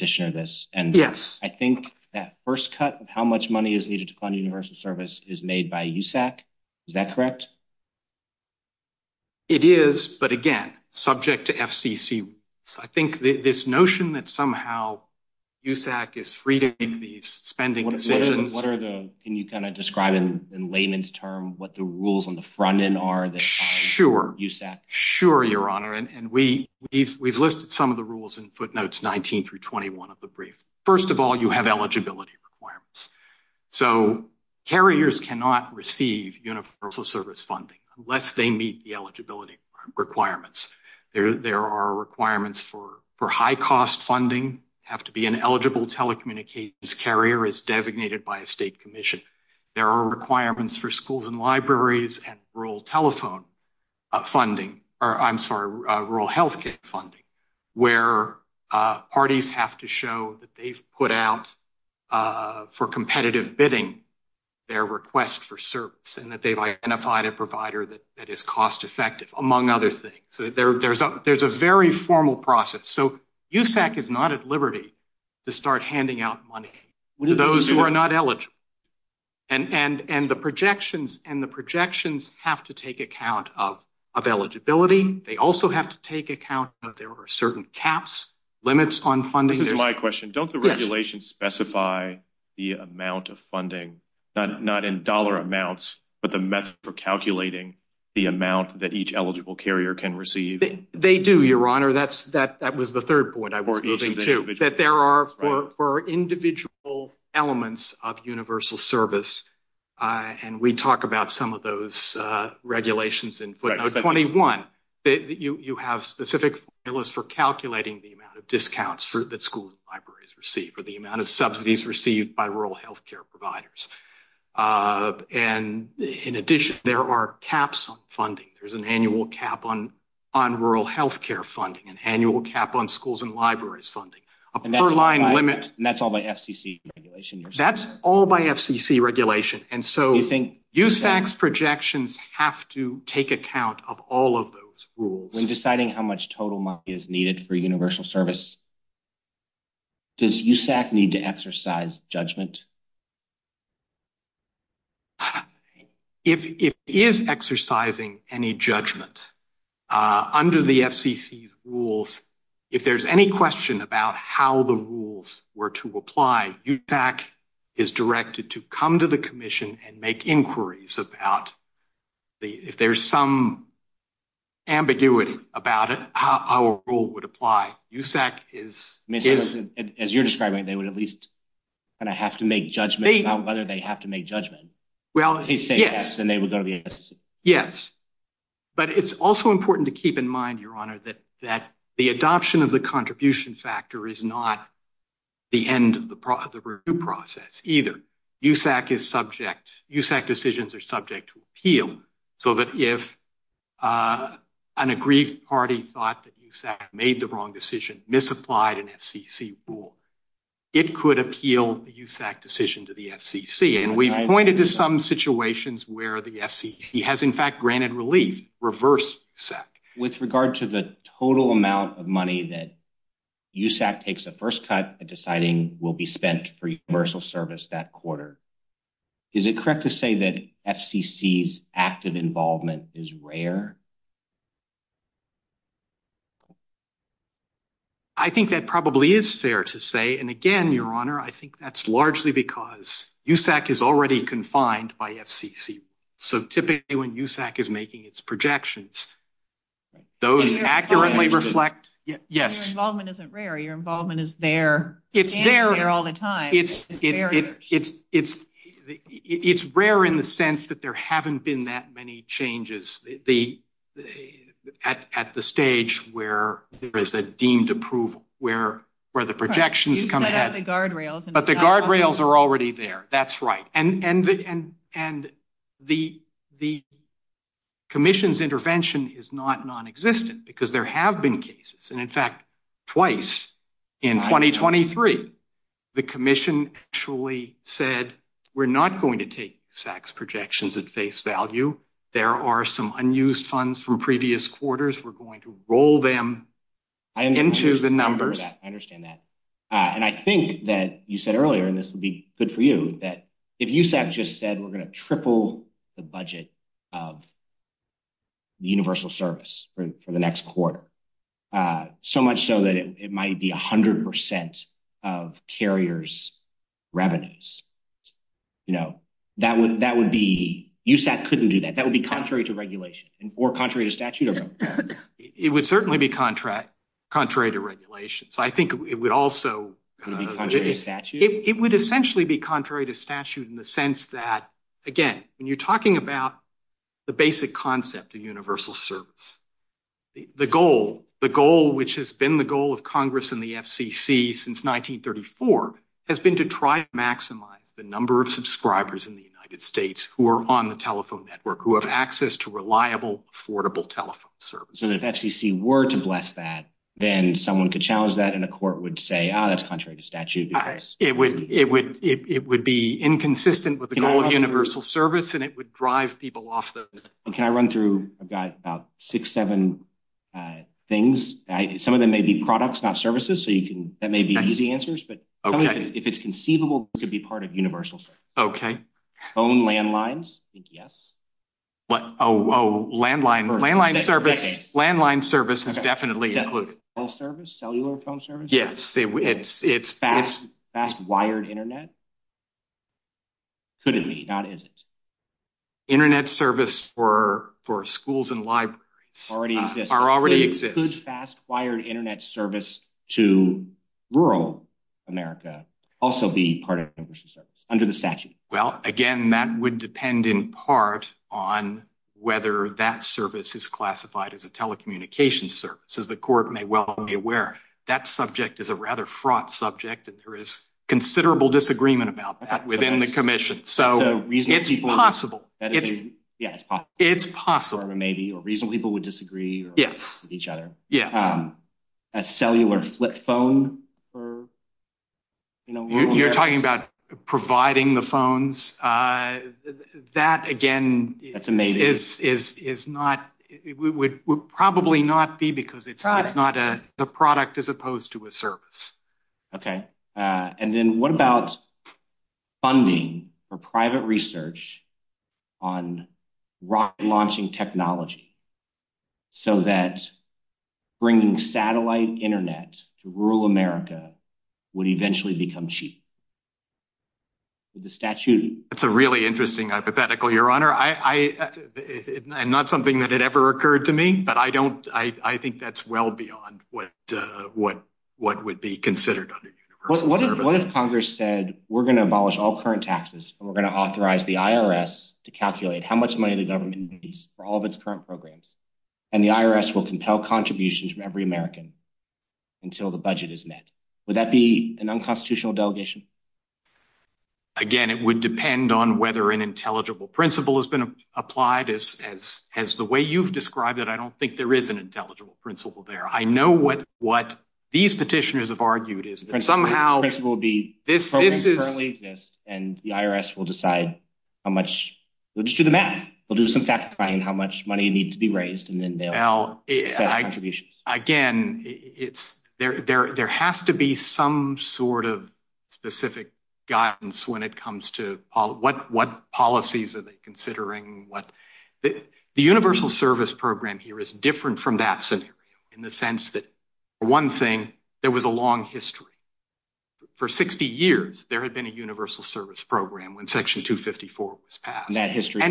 is made by USAC. Is that correct? It is. But again, subject to FCC, I think this notion that somehow USAC is freeing the spending decisions- What are the- Can you describe in layman's terms what the rules on the front end are that- Sure. Sure, Your Honor. And we've listed some of the rules in footnotes 19 through 21 of the brief. First of all, you have eligibility requirements. So carriers cannot receive universal service funding unless they meet the eligibility requirements. There are requirements for high-cost funding, have to be an eligible telecommunications carrier as designated by a state commission. There are requirements for schools and libraries and rural telephone funding, or I'm sorry, rural healthcare funding, where parties have to show that they've put out for competitive bidding their request for service and that they've identified a provider that is cost-effective, among other things. So there's a very formal process. So USAC is not at liberty to start handing out money to those who are not eligible. And the projections have to take account of eligibility. They also have to take account that there are certain caps, limits on funding- This is my question. Don't the regulations specify the amount of funding, not in dollar amounts, but the method for calculating the amount that each eligible carrier can receive? They do, Your Honor. That was the third point I was using too, that there are for individual elements of universal service. And we talk about some of those regulations in footnote 21, that you have specific formulas for calculating the amount of discounts that schools and libraries receive, or the amount of subsidies received by rural healthcare providers. And in addition, there are caps on funding. There's an annual cap on rural healthcare funding, an annual cap on schools and libraries funding, a per-line limit- And that's all by FCC regulation? That's all by FCC regulation. And so- USAC's projections have to take account of all of those rules. When deciding how much total money is needed for universal service, does USAC need to exercise judgment? If it is exercising any judgment under the FCC's rules, if there's any question about how the rules were to apply, USAC is directed to come to the Commission and make inquiries about if there's some ambiguity about it, how a rule would apply. USAC is- As you're describing, they would at least kind of have to make judgment about whether they have to make judgment. If they say yes, then they would go against it. Yes. But it's also important to keep in mind, Your Honor, that the adoption of the contribution factor is not the end of the review process either. USAC decisions are subject to appeal, so that if an agreed party thought that USAC made the wrong decision, misapplied an FCC rule, it could appeal a USAC decision to the FCC. And we've pointed to some situations where the FCC has in fact granted relief, reversed USAC. With regard to the total amount of money that USAC takes a first cut by deciding will be spent for universal service that quarter, is it correct to say that FCC's active involvement is rare? I think that probably is fair to say. And again, Your Honor, I think that's largely because USAC is already confined by FCC. So typically when USAC is making its projections, those accurately reflect... Your involvement isn't rare. Your involvement is there and there all the time. It's there. It's rare in the sense that there haven't been that many changes at the stage where there is a deemed approval, where the projections come ahead. But the guardrails are already there. That's right. And the commission's intervention is not non-existent because there have been cases. And in fact, twice in 2023, the commission actually said, we're not going to take SAC's projections at face value. There are some unused funds from previous quarters. We're going to roll them into the numbers. I understand that. And I think that you said earlier, and this would be good for you, that if USAC just said, we're going to triple the budget of the universal service for the next quarter, so much so that it might be a hundred percent of carriers' revenues. USAC couldn't do that. That would be contrary to regulation or contrary to statute. It would certainly be statute in the sense that, again, when you're talking about the basic concept of universal service, the goal, which has been the goal of Congress and the FCC since 1934, has been to try to maximize the number of subscribers in the United States who are on the telephone network, who have access to reliable, affordable telephone service. And if FCC were to bless that, then someone could challenge that and the court would say, oh, that's contrary to statute. It would be inconsistent with the goal of universal service and it would drive people off those. Can I run through, I've got about six, seven things. Some of them may be products, not services, so that may be easy answers, but if it's conceivable, it could be part of universal service. Phone landlines, yes. Oh, landline service is definitely included. Cellular phone service? Yes. It's fast-wired internet? Could it be, not is it? Internet service for schools and libraries are already existing. Could fast-wired internet service to rural America also be part of universal service under the statute? Well, again, that would depend in part on whether that service is classified as a telecommunications service, as the court may be aware. That subject is a rather fraught subject and there is considerable disagreement about that within the commission. So it's possible. It's possible. Or maybe, or reasonable people would disagree with each other. A cellular flip phone? You're talking about providing the phones? That, again, is not, would probably not be, because it's not a product as opposed to a service. Okay. And then what about funding for private research on rock launching technology so that bringing satellite internet to rural America would eventually become cheap? The statute? That's a really interesting hypothetical, Your Honor. It's not something that had ever occurred to me, but I think that's well beyond what would be considered under universal service. What if Congress said, we're going to abolish all current taxes and we're going to authorize the IRS to calculate how much money the government needs for all of its current programs, and the IRS will compel contributions from every American until the budget is met? Would that be an unconstitutional delegation? Again, it would depend on whether an intelligible principle has been applied as the way you've described it. I don't think there is an intelligible principle there. I know what these petitioners have argued is that somehow this is- And somehow this will be, this currently exists and the IRS will decide how much, we'll just do the math. We'll do some fact-finding, how much money needs to be raised, and then they'll- Again, it's, there has to be some sort of guidance when it comes to what policies are they considering? The universal service program here is different from that scenario in the sense that, for one thing, there was a long history. For 60 years, there had been a universal service program when section 254 was passed. And that history-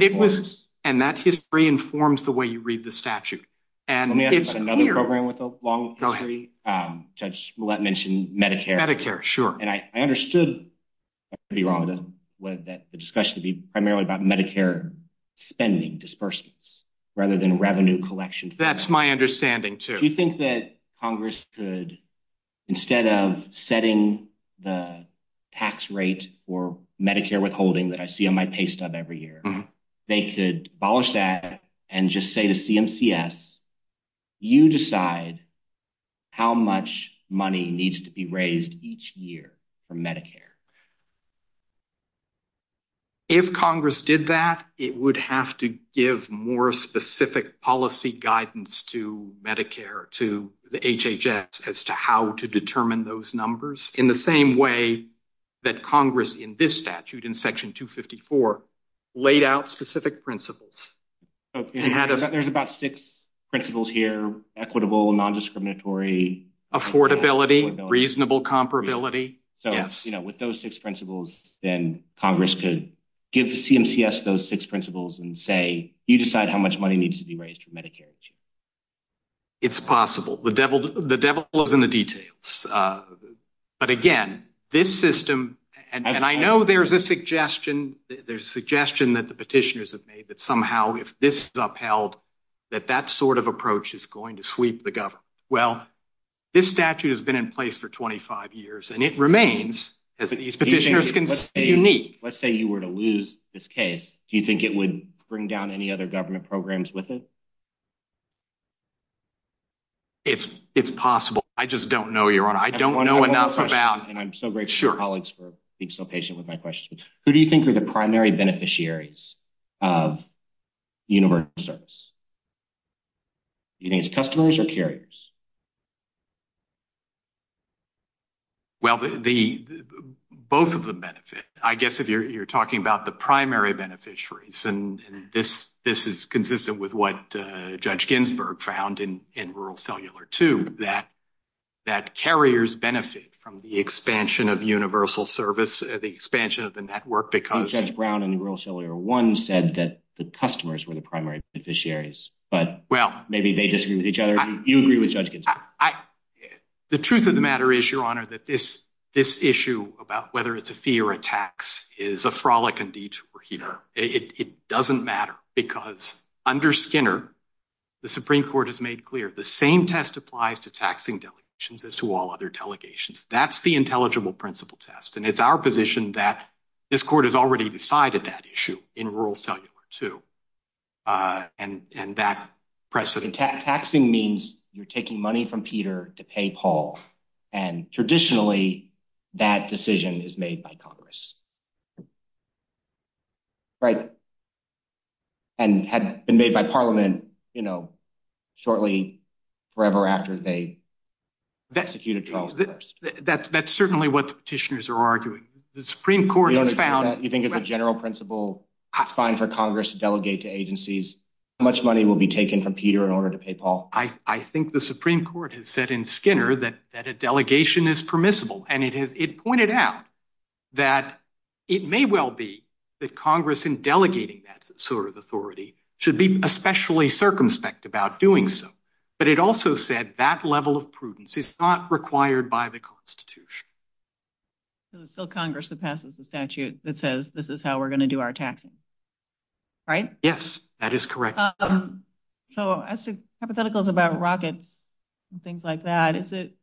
And that history informs the way you read the statute. And we have another program with a long history, Judge Millett mentioned Medicare. Medicare, sure. And I understood, if I'm not wrong, that the discussion would be primarily about Medicare spending dispersals rather than revenue collection. That's my understanding too. Do you think that Congress could, instead of setting the tax rate for Medicare withholding that I see on my pay stub every year, they could abolish that and just say to CMCS, you decide how much money needs to be raised each year for Medicare? If Congress did that, it would have to give more specific policy guidance to Medicare, to the HHS, as to how to determine those numbers in the same way that Congress in this statute, in section 254, laid out specific principles. There's about six principles here, equitable, non-discriminatory- Affordability, reasonable comparability. So with those six principles, then Congress could give CMCS those six principles and say, you decide how much money needs to be raised for Medicare each year. It's possible. The devil is in the details. But again, this system- And I know there's a suggestion, there's a suggestion that the petitioners have made that somehow if this is upheld, that that sort of approach is going to sweep the government. Well, this statute has been in place for 25 years, and it remains. Let's say you were to lose this case. Do you think it would bring down any other government programs with it? It's possible. I just don't know, Your Honor. I don't know enough about- And I'm so grateful to colleagues for being so patient with my questions. Who do you think are the primary beneficiaries of universal service? Do you think it's customers or carriers? Well, both of them benefit. I guess if you're talking about the primary beneficiaries, and this is consistent with what Judge Ginsburg found in Rural Cellular too, that carriers benefit from the expansion of universal service, the expansion of the network, because- Judge Brown in Rural Cellular 1 said that the customers were the primary beneficiaries, but maybe they disagree with each other. Do you agree with Judge Ginsburg? The truth of the matter is, Your Honor, that this issue about whether it's a fee or a tax is a frolic indeed. It doesn't matter because under Skinner, the Supreme Court has made clear the same test applies to taxing delegations as to all other delegations. That's the intelligible principle test. And it's our position that this court has already decided that issue in Rural Cellular 2 and that precedent- Taxing means you're taking money from Peter to pay Paul. And traditionally, that decision is made by Congress. Right? And had it been made by Parliament shortly, forever after they executed Charles I. That's certainly what the petitioners are arguing. The Supreme Court has found- You think it's a general principle, it's fine for Congress to delegate to agencies. How much money will be taken from Peter in order to pay Paul? I think the Supreme Court has said in Skinner that a delegation is permissible. And it pointed out that it may well be that Congress, in delegating that sort of authority, should be especially circumspect about doing so. But it also said that level of prudence is not required by the Constitution. So it's still Congress that passes the statute that says, this is how we're going to do our taxing. Right? Yes, that is correct. So as to hypotheticals about rockets and things like that, is it-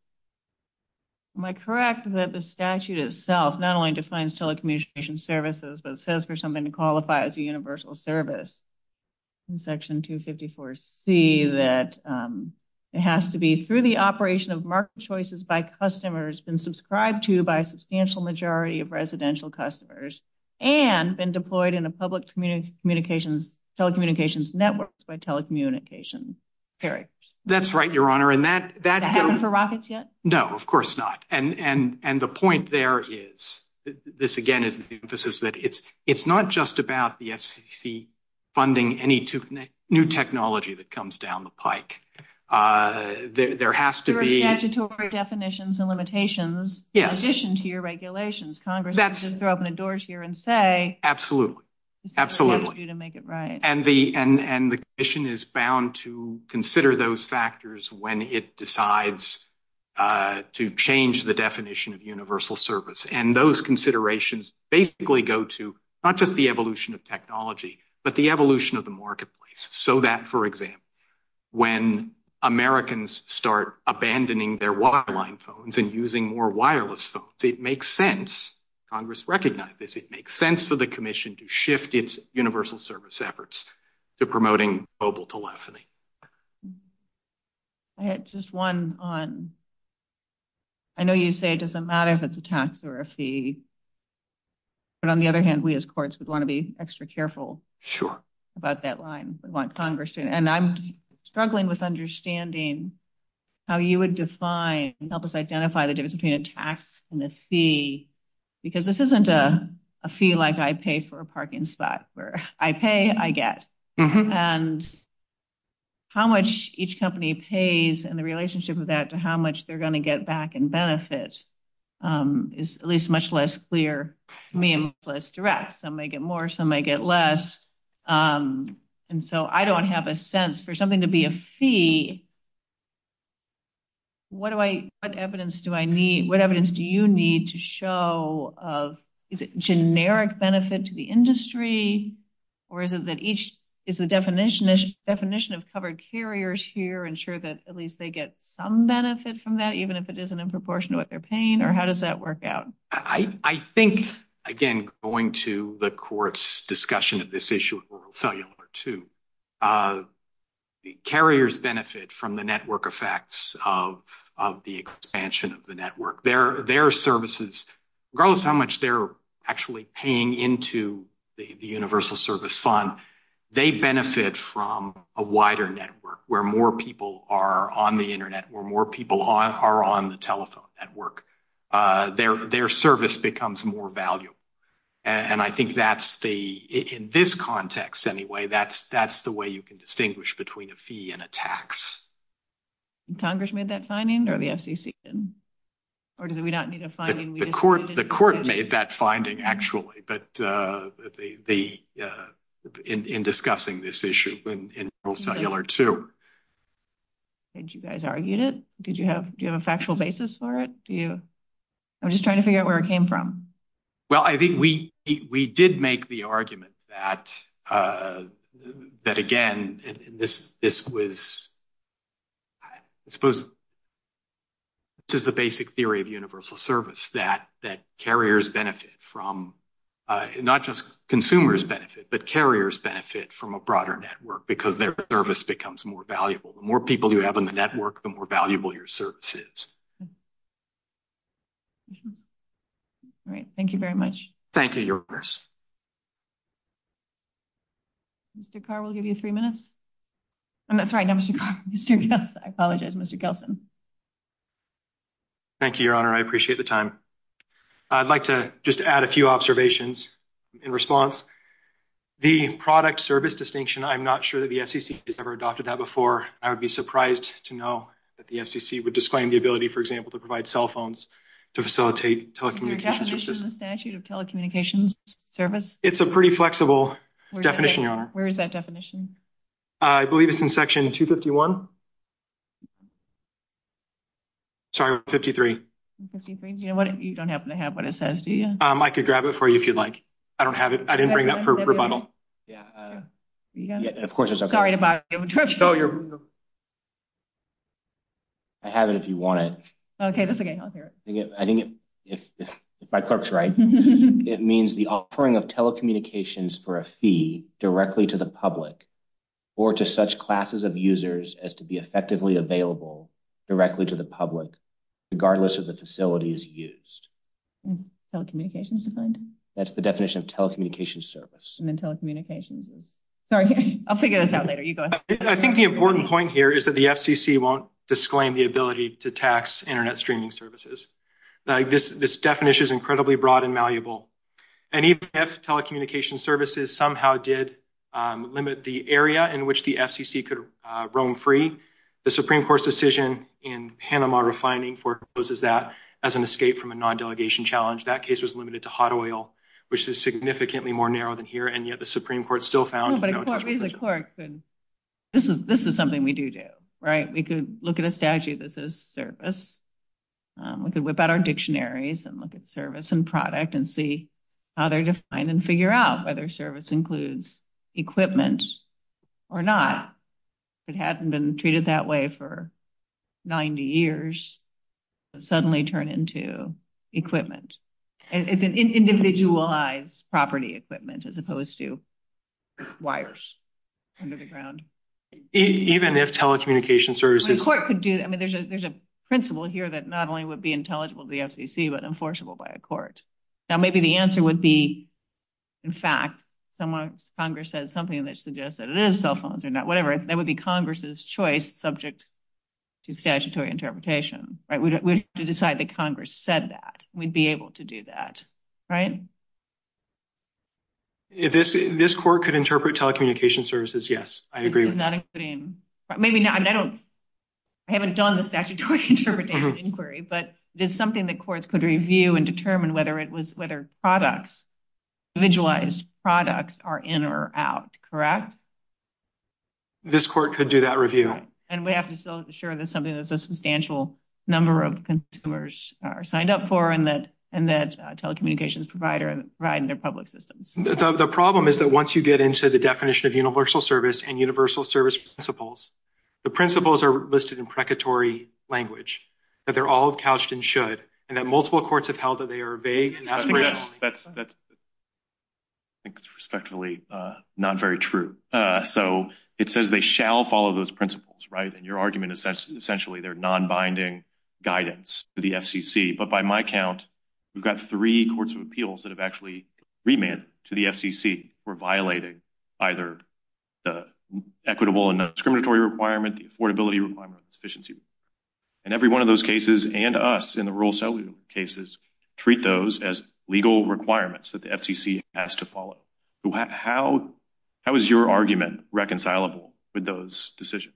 Am I correct that the statute itself not only defines telecommunications services, but says for something to qualify as a universal service? In section 254C, that it has to be through the operation of market choices by customers, been subscribed to by a substantial majority of residential customers, and been deployed in a public telecommunications network by telecommunications carriers. That's right, Your Honor. And that- Is that for rockets yet? No, of course not. And the point there is, this again is the emphasis that it's not just about the SEC funding any new technology that comes down the pike. There has to be- There are statutory definitions and limitations- Yes. In addition to your regulations. Congress doesn't just open the doors here and say- Absolutely. Absolutely. It's up to you to make it right. And the Commission is bound to consider those factors when it decides to change the definition of universal service. And those considerations basically go to not just the evolution of technology, but the evolution of the marketplace. So that, for example, when Americans start abandoning their wireline phones and using more wireless phones, it makes sense, Congress recognizes, it makes sense for the Commission to shift its universal service efforts to promoting mobile telephony. I had just one on- I know you say it doesn't matter if it's a tax or a fee, but on the other hand, we as courts would want to be extra careful- Sure. ...about that line. We want Congress to. And I'm struggling with understanding how you would define and help us identify the difference between a tax and a fee, because this isn't a fee like I pay for a parking spot, where I pay, I get. And how much each company pays and the relationship of that to how much they're going to get back in benefits is at least much less clear to me and less direct. Some may get more, some may get less. And so I don't have a sense. For something to be a fee, what evidence do I need- what evidence do you need to show of- is it generic benefit to the industry, or is it that each- is the definition of covered carriers here ensure that at least they get some benefit from that, even if it isn't in proportion to what they're paying, or how does that work out? I think, again, going to the court's discussion of this issue of rural cellular, too, the carriers benefit from the network effects of the expansion of the network. Their services, regardless of how much they're actually paying into the universal service fund, they benefit from a wider network where more people are on the internet, where more people are on the telephone network. Their service becomes more valuable. And I think that's the- in this context, anyway, that's the way you can distinguish between a fee and a tax. And Congress made that finding? Or the FCC? Or do we not need a finding? The court made that finding, actually. But the- in discussing this issue in rural cellular, too. Did you guys argue it? Did you have- do you have a factual basis for it? Do you- I'm just trying to figure out where it came from. Well, I think we did make the argument that, again, this was- I suppose this is the basic theory of universal service, that carriers benefit from- not just consumers benefit, but carriers benefit from a broader network because their service becomes more valuable. The more people you have on the network, the more valuable your service is. All right. Thank you very much. Thank you, Your Honor. Mr. Carr, we'll give you three minutes. Oh, that's right. Not Mr. Carr, Mr. Gelson. I apologize, Mr. Gelson. Thank you, Your Honor. I appreciate the time. I'd like to just add a few observations in response. The product-service distinction, I'm not sure that the FCC has ever adopted that before. I would be surprised to know that the FCC would disclaim the ability, for example, to provide cell phones to facilitate telecommunications- Is there a definition in the statute of telecommunications service? It's a pretty flexible definition, Your Honor. Where is that definition? I believe it's in section 251. Sorry, 53. You don't happen to have what it says, do you? I could grab it for you if you'd like. I don't have it. I didn't bring that for rebuttal. Of course, it's okay. Sorry about it. I have it if you want it. Okay, that's okay. I'll carry it. I think if my clerk's right, it means the offering of telecommunications for a fee directly to the public or to such classes of users as to be effectively available directly to the public, regardless of the facilities used. That's the definition of telecommunications service. I think the important point here is that the FCC won't disclaim the ability to tax internet streaming services. This definition is incredibly broad and malleable. And even if telecommunications services somehow did limit the area in which the FCC could roam free, the Supreme Court's decision in Panama refining forecloses that as an escape from a non-delegation challenge. That case was limited to hot oil, which is significantly more narrow than here. And yet, the Supreme Court still found... This is something we do do, right? We could look at a statute that says service. We could whip out our dictionaries and look at service and product and see how they're defined and figure out whether service includes equipment or not. It hasn't been treated that way for 90 years. It suddenly turned into equipment. And it's an individualized property equipment as opposed to wires under the ground. Even if telecommunications services... The court could do... I mean, there's a principle here that not only would be intelligible to the FCC, but enforceable by a court. Now, maybe the answer would be, in fact, Congress says something that suggests that it is cell that would be Congress's choice subject to statutory interpretation, right? We would have to decide that Congress said that. We'd be able to do that, right? This court could interpret telecommunications services, yes. I agree with that. Not including... I haven't done the statutory interpretation inquiry, but there's something that courts could review and determine whether it was whether products, individualized products are in or out, correct? This court could do that review. And we have to still ensure that something that's a substantial number of consumers are signed up for and that telecommunications provider provide in their public systems. The problem is that once you get into the definition of universal service and universal service principles, the principles are listed in precatory language, that they're all couched and should, and that multiple courts have held that they are vague and not rational. Yes, that's respectfully not very true. So it says they shall follow those principles, right? And your argument is essentially they're non-binding guidance to the FCC. But by my count, we've got three courts of appeals that have actually remanded to the FCC or violated either the equitable and discriminatory requirement, the affordability requirement, sufficiency. And every one of those cases and us in the rural cellular cases treat those as legal requirements that the FCC has to follow. How is your argument reconcilable with those decisions?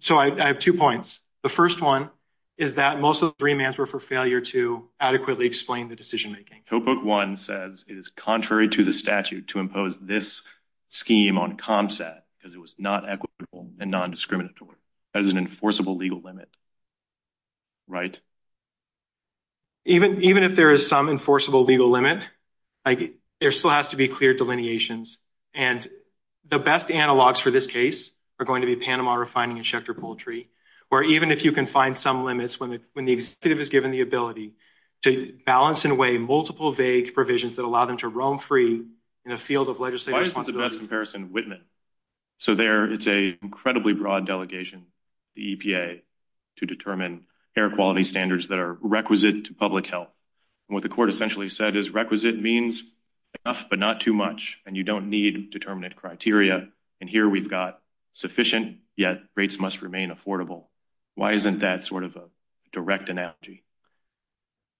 So I have two points. The first one is that most of the remands were for failure to adequately explain the decision-making. So book one says it is contrary to the statute to impose this scheme on ComSat because it was not equitable and non-discriminatory. That is an enforceable legal limit, right? Even if there is some enforceable legal limit, there still has to be clear delineations. And the best analogs for this case are going to be Panama Refining and Schecter Poultry, or even if you can find some limits when the executive is given the ability to balance in a way multiple vague provisions that allow them to roam free in a field of legislative responsibility. I just want the best comparison, Whitman. So there is an incredibly broad delegation, the EPA, to determine air quality standards that are requisite to public health. What the court essentially said is requisite means enough but not too much, and you don't need determinate criteria. And here we've got sufficient, yet rates must remain affordable. Why isn't that sort of a direct analogy?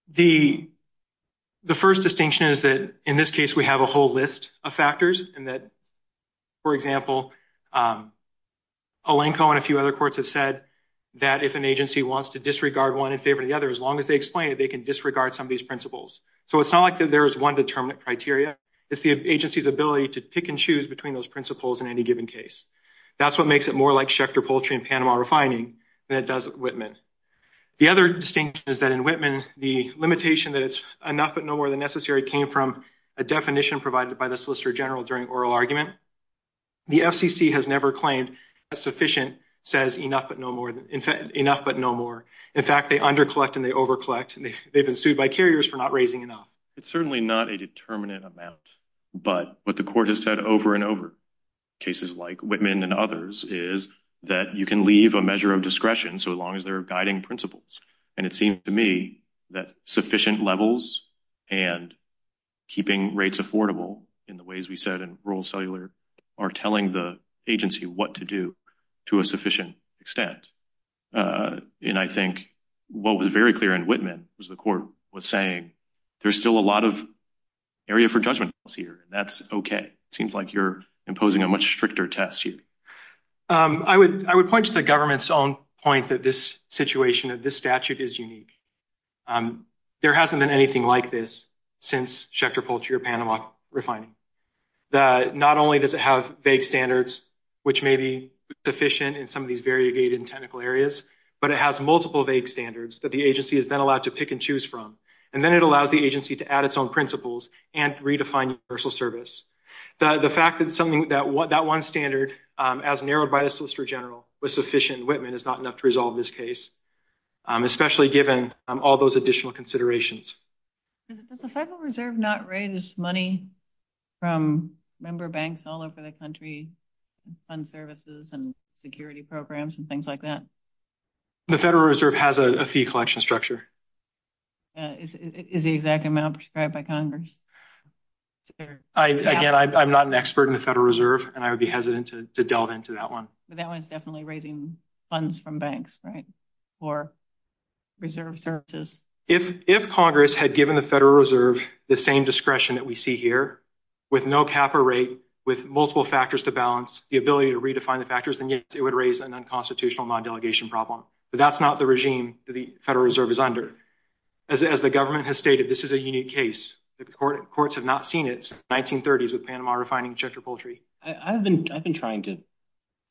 The first distinction is that in this case we have a whole list of factors and that, for example, Alenko and a few other courts have said that if an agency wants to disregard one in favor of the other, as long as they explain it, they can disregard some of these principles. So it's not like there is one determinate criteria. It's the agency's ability to pick and choose between those principles in any given case. That's what makes it more like Schecter Poultry and Panama Refining than it does Whitman. The other distinction is that in Whitman, the limitation that it's enough but no more came from a definition provided by the Solicitor General during oral argument. The FCC has never claimed that sufficient says enough but no more. In fact, they under-collect and they over-collect. They've been sued by carriers for not raising enough. It's certainly not a determinate amount, but what the court has said over and over, cases like Whitman and others, is that you can leave a measure of discretion so long as there are guiding principles. It seems to me that sufficient levels and keeping rates affordable in the ways we said in rural cellular are telling the agency what to do to a sufficient extent. I think what was very clear in Whitman was the court was saying, there's still a lot of area for judgment here. That's okay. It seems like you're imposing a much stricter test here. I would point to the government's own point that this situation of this statute is unique. There hasn't been anything like this since Schechter-Polshy or Panama refining. Not only does it have vague standards, which may be sufficient in some of these variegated and technical areas, but it has multiple vague standards that the agency is then allowed to pick and choose from. Then it allows the agency to add its own principles and redefine universal service. The fact that that one standard, as narrowed by the Solicitor General, was sufficient in Whitman is not enough to resolve this case, especially given all those additional considerations. Has the Federal Reserve not raised money from member banks all over the country, fund services and security programs and things like that? The Federal Reserve has a fee collection structure. Is the exact amount prescribed by Congress? Again, I'm not an expert in the Federal Reserve, and I would be hesitant to delve into that one. But that one's definitely raising funds from banks, right, for reserve services? If Congress had given the Federal Reserve the same discretion that we see here, with no cap or rate, with multiple factors to balance, the ability to redefine the factors, then yes, it would raise an unconstitutional non-delegation problem. But that's not the regime that the Federal Reserve is under. As the government has stated, this is a unique case. The courts have not seen it since the 1930s with Panama Refining and Chester Poultry. I've been trying to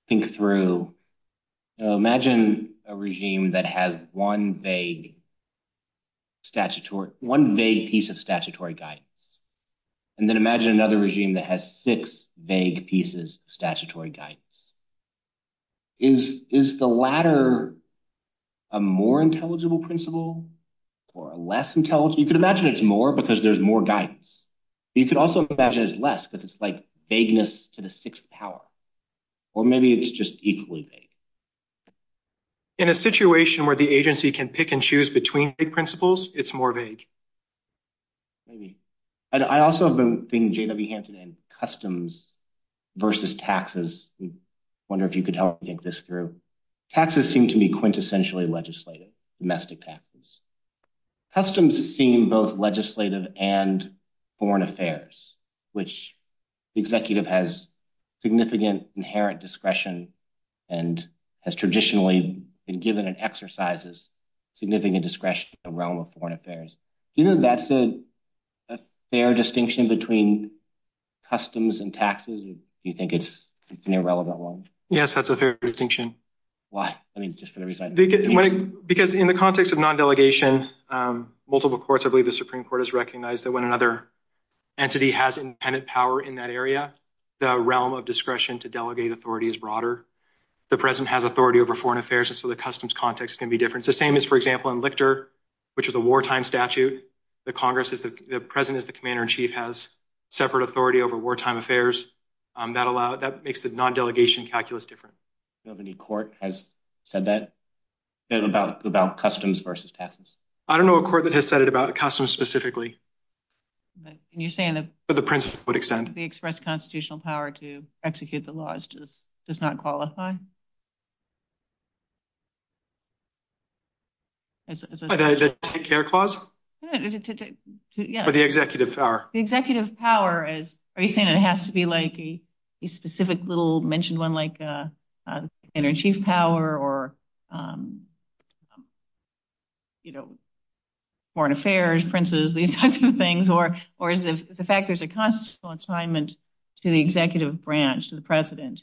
think through. Imagine a regime that has one vague piece of statutory guidance, and then imagine another regime that has six vague pieces of statutory guidance. Is the latter a more intelligible principle or less intelligible? You could imagine it's more because there's more guidance. You could also imagine it's less because it's like vagueness to the sixth power. Or maybe it's just equally vague. In a situation where the agency can pick and choose between vague principles, it's more vague. I also have been thinking, J.W. Hanson, in customs versus taxes. I wonder if you could help me think this through. Taxes seem to be quintessentially legislative, domestic taxes. Customs seem both legislative and foreign affairs, which the executive has significant inherent discretion and has traditionally been given an exercise of significant discretion in the realm of foreign affairs. That's a fair distinction between customs and taxes, or do you think it's an irrelevant one? Yes, that's a fair distinction. Why? I mean, just for the reason. Because in the context of non-delegation, multiple courts, I believe the Supreme Court has recognized that when another entity has independent power in that area, the realm of discretion to delegate authority is broader. The president has authority over foreign affairs, and so the customs context can be different. The same is, for example, in Lichter, which is a wartime statute, the president is the commander-in-chief, has separate authority over wartime affairs. That makes the non-delegation calculus different. Do you know of any court that has said that, about customs versus taxes? I don't know of a court that has said it about customs specifically. You're saying that the express constitutional power to execute the laws does not qualify? By the executive power. The executive power, are you saying it has to be like a specific little mentioned one like an inner chief power or foreign affairs princes, these types of things, or is it the fact there's a constitutional assignment to the executive branch, to the president,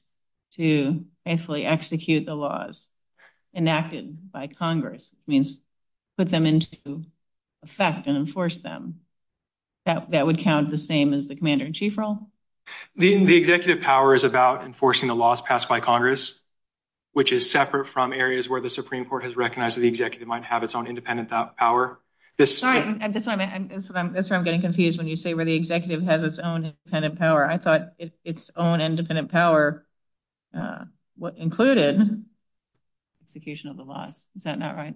to basically execute the laws enacted by Congress? It means put them into effect and enforce them. That would count the same as the commander-in-chief role? The executive power is about enforcing the laws passed by Congress, which is separate from areas where the Supreme Court has recognized that the executive might have its own independent power. Sorry, I'm getting confused when you say where the executive has its own independent power. I thought its own independent power included the execution of the law. Is that not right?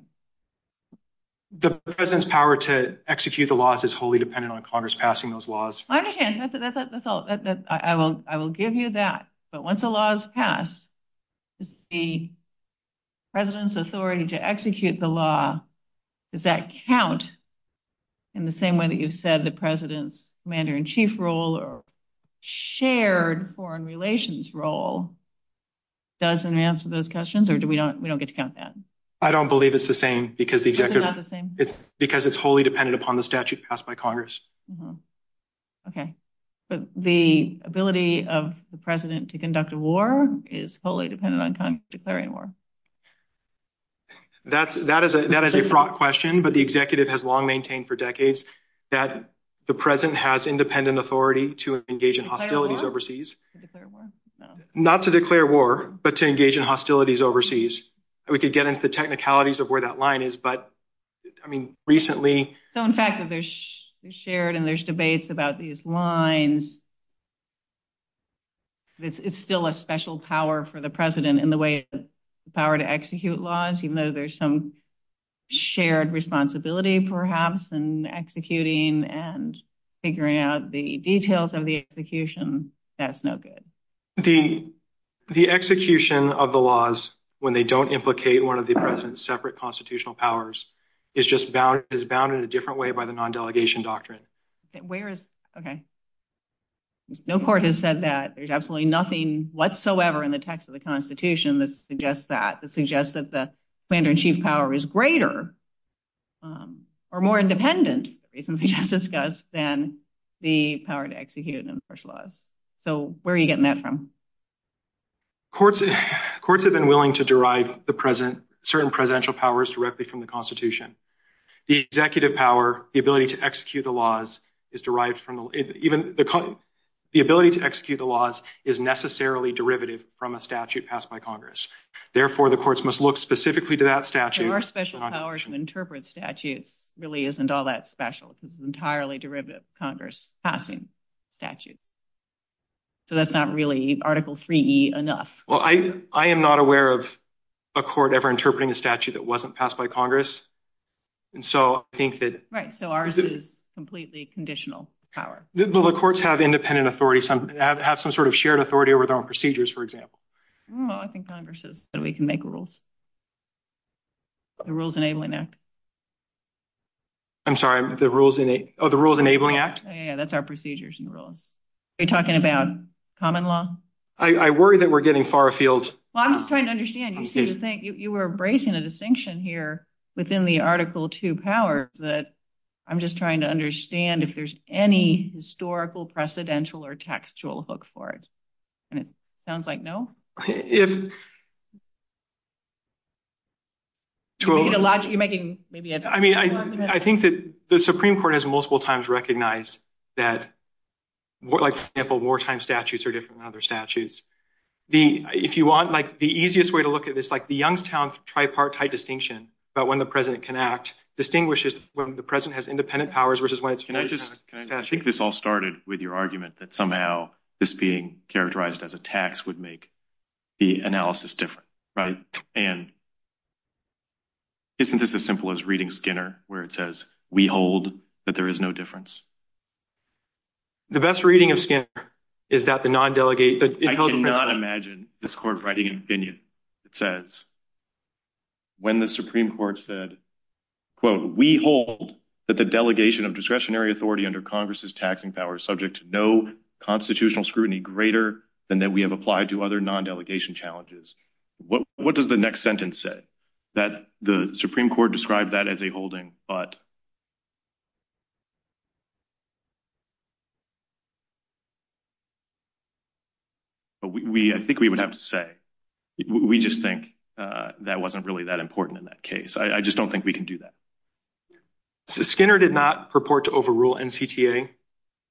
The president's power to execute the laws is wholly dependent on Congress passing those laws. I understand. I will give you that, but once the law is passed, the president's authority to execute the law, does that count in the same way that you said the president's commander-in-chief role or shared foreign relations role doesn't answer those questions, or we don't get to count that? I don't believe it's the same because it's wholly dependent upon the statute passed by Congress. Okay, but the ability of the president to conduct a war is wholly dependent on Congress declaring war? That is a fraught question, but the executive has long maintained for decades that the president has independent authority to engage in hostilities overseas. Not to declare war, but to engage in hostilities overseas. We could get into the technicalities of where that line is, but I mean, recently... So, in fact, there's shared and there's debates about these lines. It's still a special power for the president in the way the power to execute laws, even there's some shared responsibility, perhaps, in executing and figuring out the details of the execution. That's no good. The execution of the laws when they don't implicate one of the president's separate constitutional powers is just bound in a different way by the non-delegation doctrine. Okay. No court has said that. There's absolutely nothing whatsoever in the text of the Constitution that suggests that, that the plan to achieve power is greater or more independent, as we just discussed, than the power to execute and enforce laws. So, where are you getting that from? Courts have been willing to derive certain presidential powers directly from the Constitution. The executive power, the ability to execute the laws is derived from... The ability to execute the laws is necessarily derivative from a statute passed by Congress. Therefore, the courts must look specifically to that statute. Our special power to interpret statutes really isn't all that special. It's an entirely derivative of Congress passing statutes. So, that's not really Article 3E enough. Well, I am not aware of a court ever interpreting a statute that wasn't passed by Congress. And so, I think that... Right. So, ours is completely conditional power. But the courts have independent authority, have some sort of shared authority over their own procedures, for example. Well, I think Congress is, but we can make rules. The Rules Enabling Act. I'm sorry, the Rules Enabling Act? Yeah, that's our procedures and rules. Are you talking about common law? I worry that we're getting far afield. Well, I'm just trying to understand. You seem to think you were embracing a distinction here within the Article 2 power, that I'm just trying to understand if there's any historical, precedential, or textual hook for it. And it sounds like no. I mean, I think that the Supreme Court has multiple times recognized that, like, for example, wartime statutes are different than other statutes. If you want, like, the easiest way to look at this, like, the Youngstown tripartite distinction about when the president can act distinguishes when the president has independent powers versus when it's... Can I just kick this all started with your argument that somehow this being characterized as a tax would make the analysis different, right? And isn't this as simple as reading Skinner, where it says, we hold that there is no difference? The best reading of Skinner is that the non-delegate... I cannot imagine this Court writing opinion that says, when the Supreme Court said, quote, we hold that the delegation of discretionary authority under Congress's taxing power is subject to no constitutional scrutiny greater than that we have applied to other non-delegation challenges. What does the next sentence say? That the Supreme Court described that as a holding, but... I think we would have to say, we just think that wasn't really that important in that case. I just don't think we can do that. So Skinner did not purport to overrule NCTA.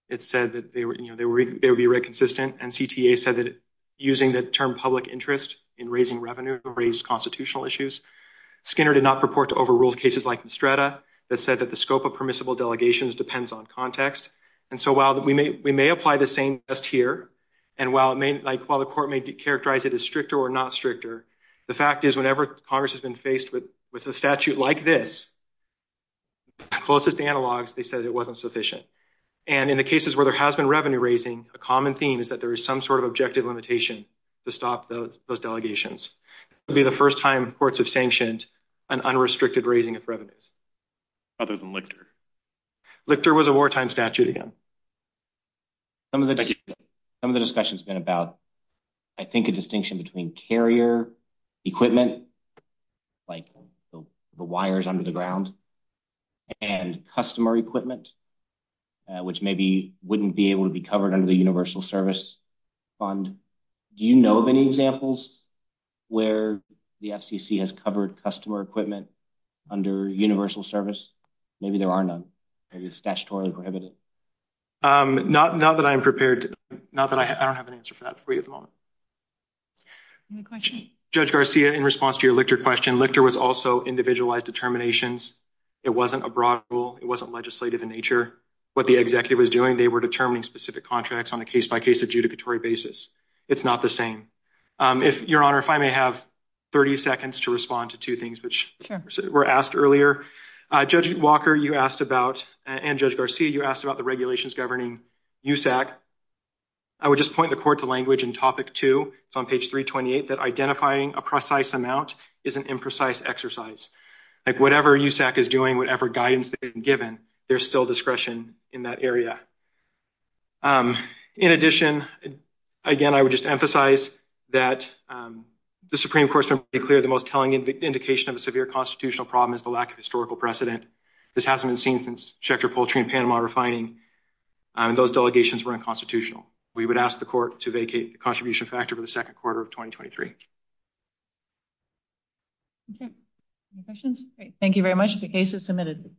It said that they were inconsistent. NCTA said that using the term public interest in raising revenue raised constitutional issues. Skinner did not purport to overrule cases like Estrada that said that the scope of permissible delegations depends on context. And so while we may apply the same test here, and while the Court may characterize it as with a statute like this, closest analogs, they said it wasn't sufficient. And in the cases where there has been revenue raising, a common theme is that there is some sort of objective limitation to stop those delegations. It would be the first time courts have sanctioned an unrestricted raising of revenue. Other than Lichter. Lichter was a wartime statute, yeah. Some of the discussion's been about, I think, a distinction between carrier equipment, like the wires under the ground, and customer equipment, which maybe wouldn't be able to be covered under the Universal Service Fund. Do you know of any examples where the FCC has covered customer equipment under Universal Service? Maybe there are none. Maybe it's statutorily prohibited. Not that I'm prepared to, not that I don't have an answer for that for you at the moment. Any questions? Judge Garcia, in response to your Lichter question, Lichter was also individualized determinations. It wasn't a broad rule. It wasn't legislative in nature. What the executive was doing, they were determining specific contracts on a case-by-case adjudicatory basis. It's not the same. Your Honor, if I may have 30 seconds to respond to two things which were asked earlier. Judge Walker, you asked about, and Judge Garcia, you asked about the Regulations Governing Use Act. I would just point the court to language in topic two, it's on page 328, that identifying a precise amount is an imprecise exercise. Whatever Use Act is doing, whatever guidance is given, there's still discretion in that area. In addition, again, I would just emphasize that the Supreme Court simply declared the most telling indication of a severe constitutional problem is the lack of historical precedent. This hasn't been seen since Schechter, Poultry, and Panama refining. Those delegations were unconstitutional. We would ask the court to vacate the contribution factor for the second quarter of 2023. Okay, any questions? Thank you very much. The case is submitted.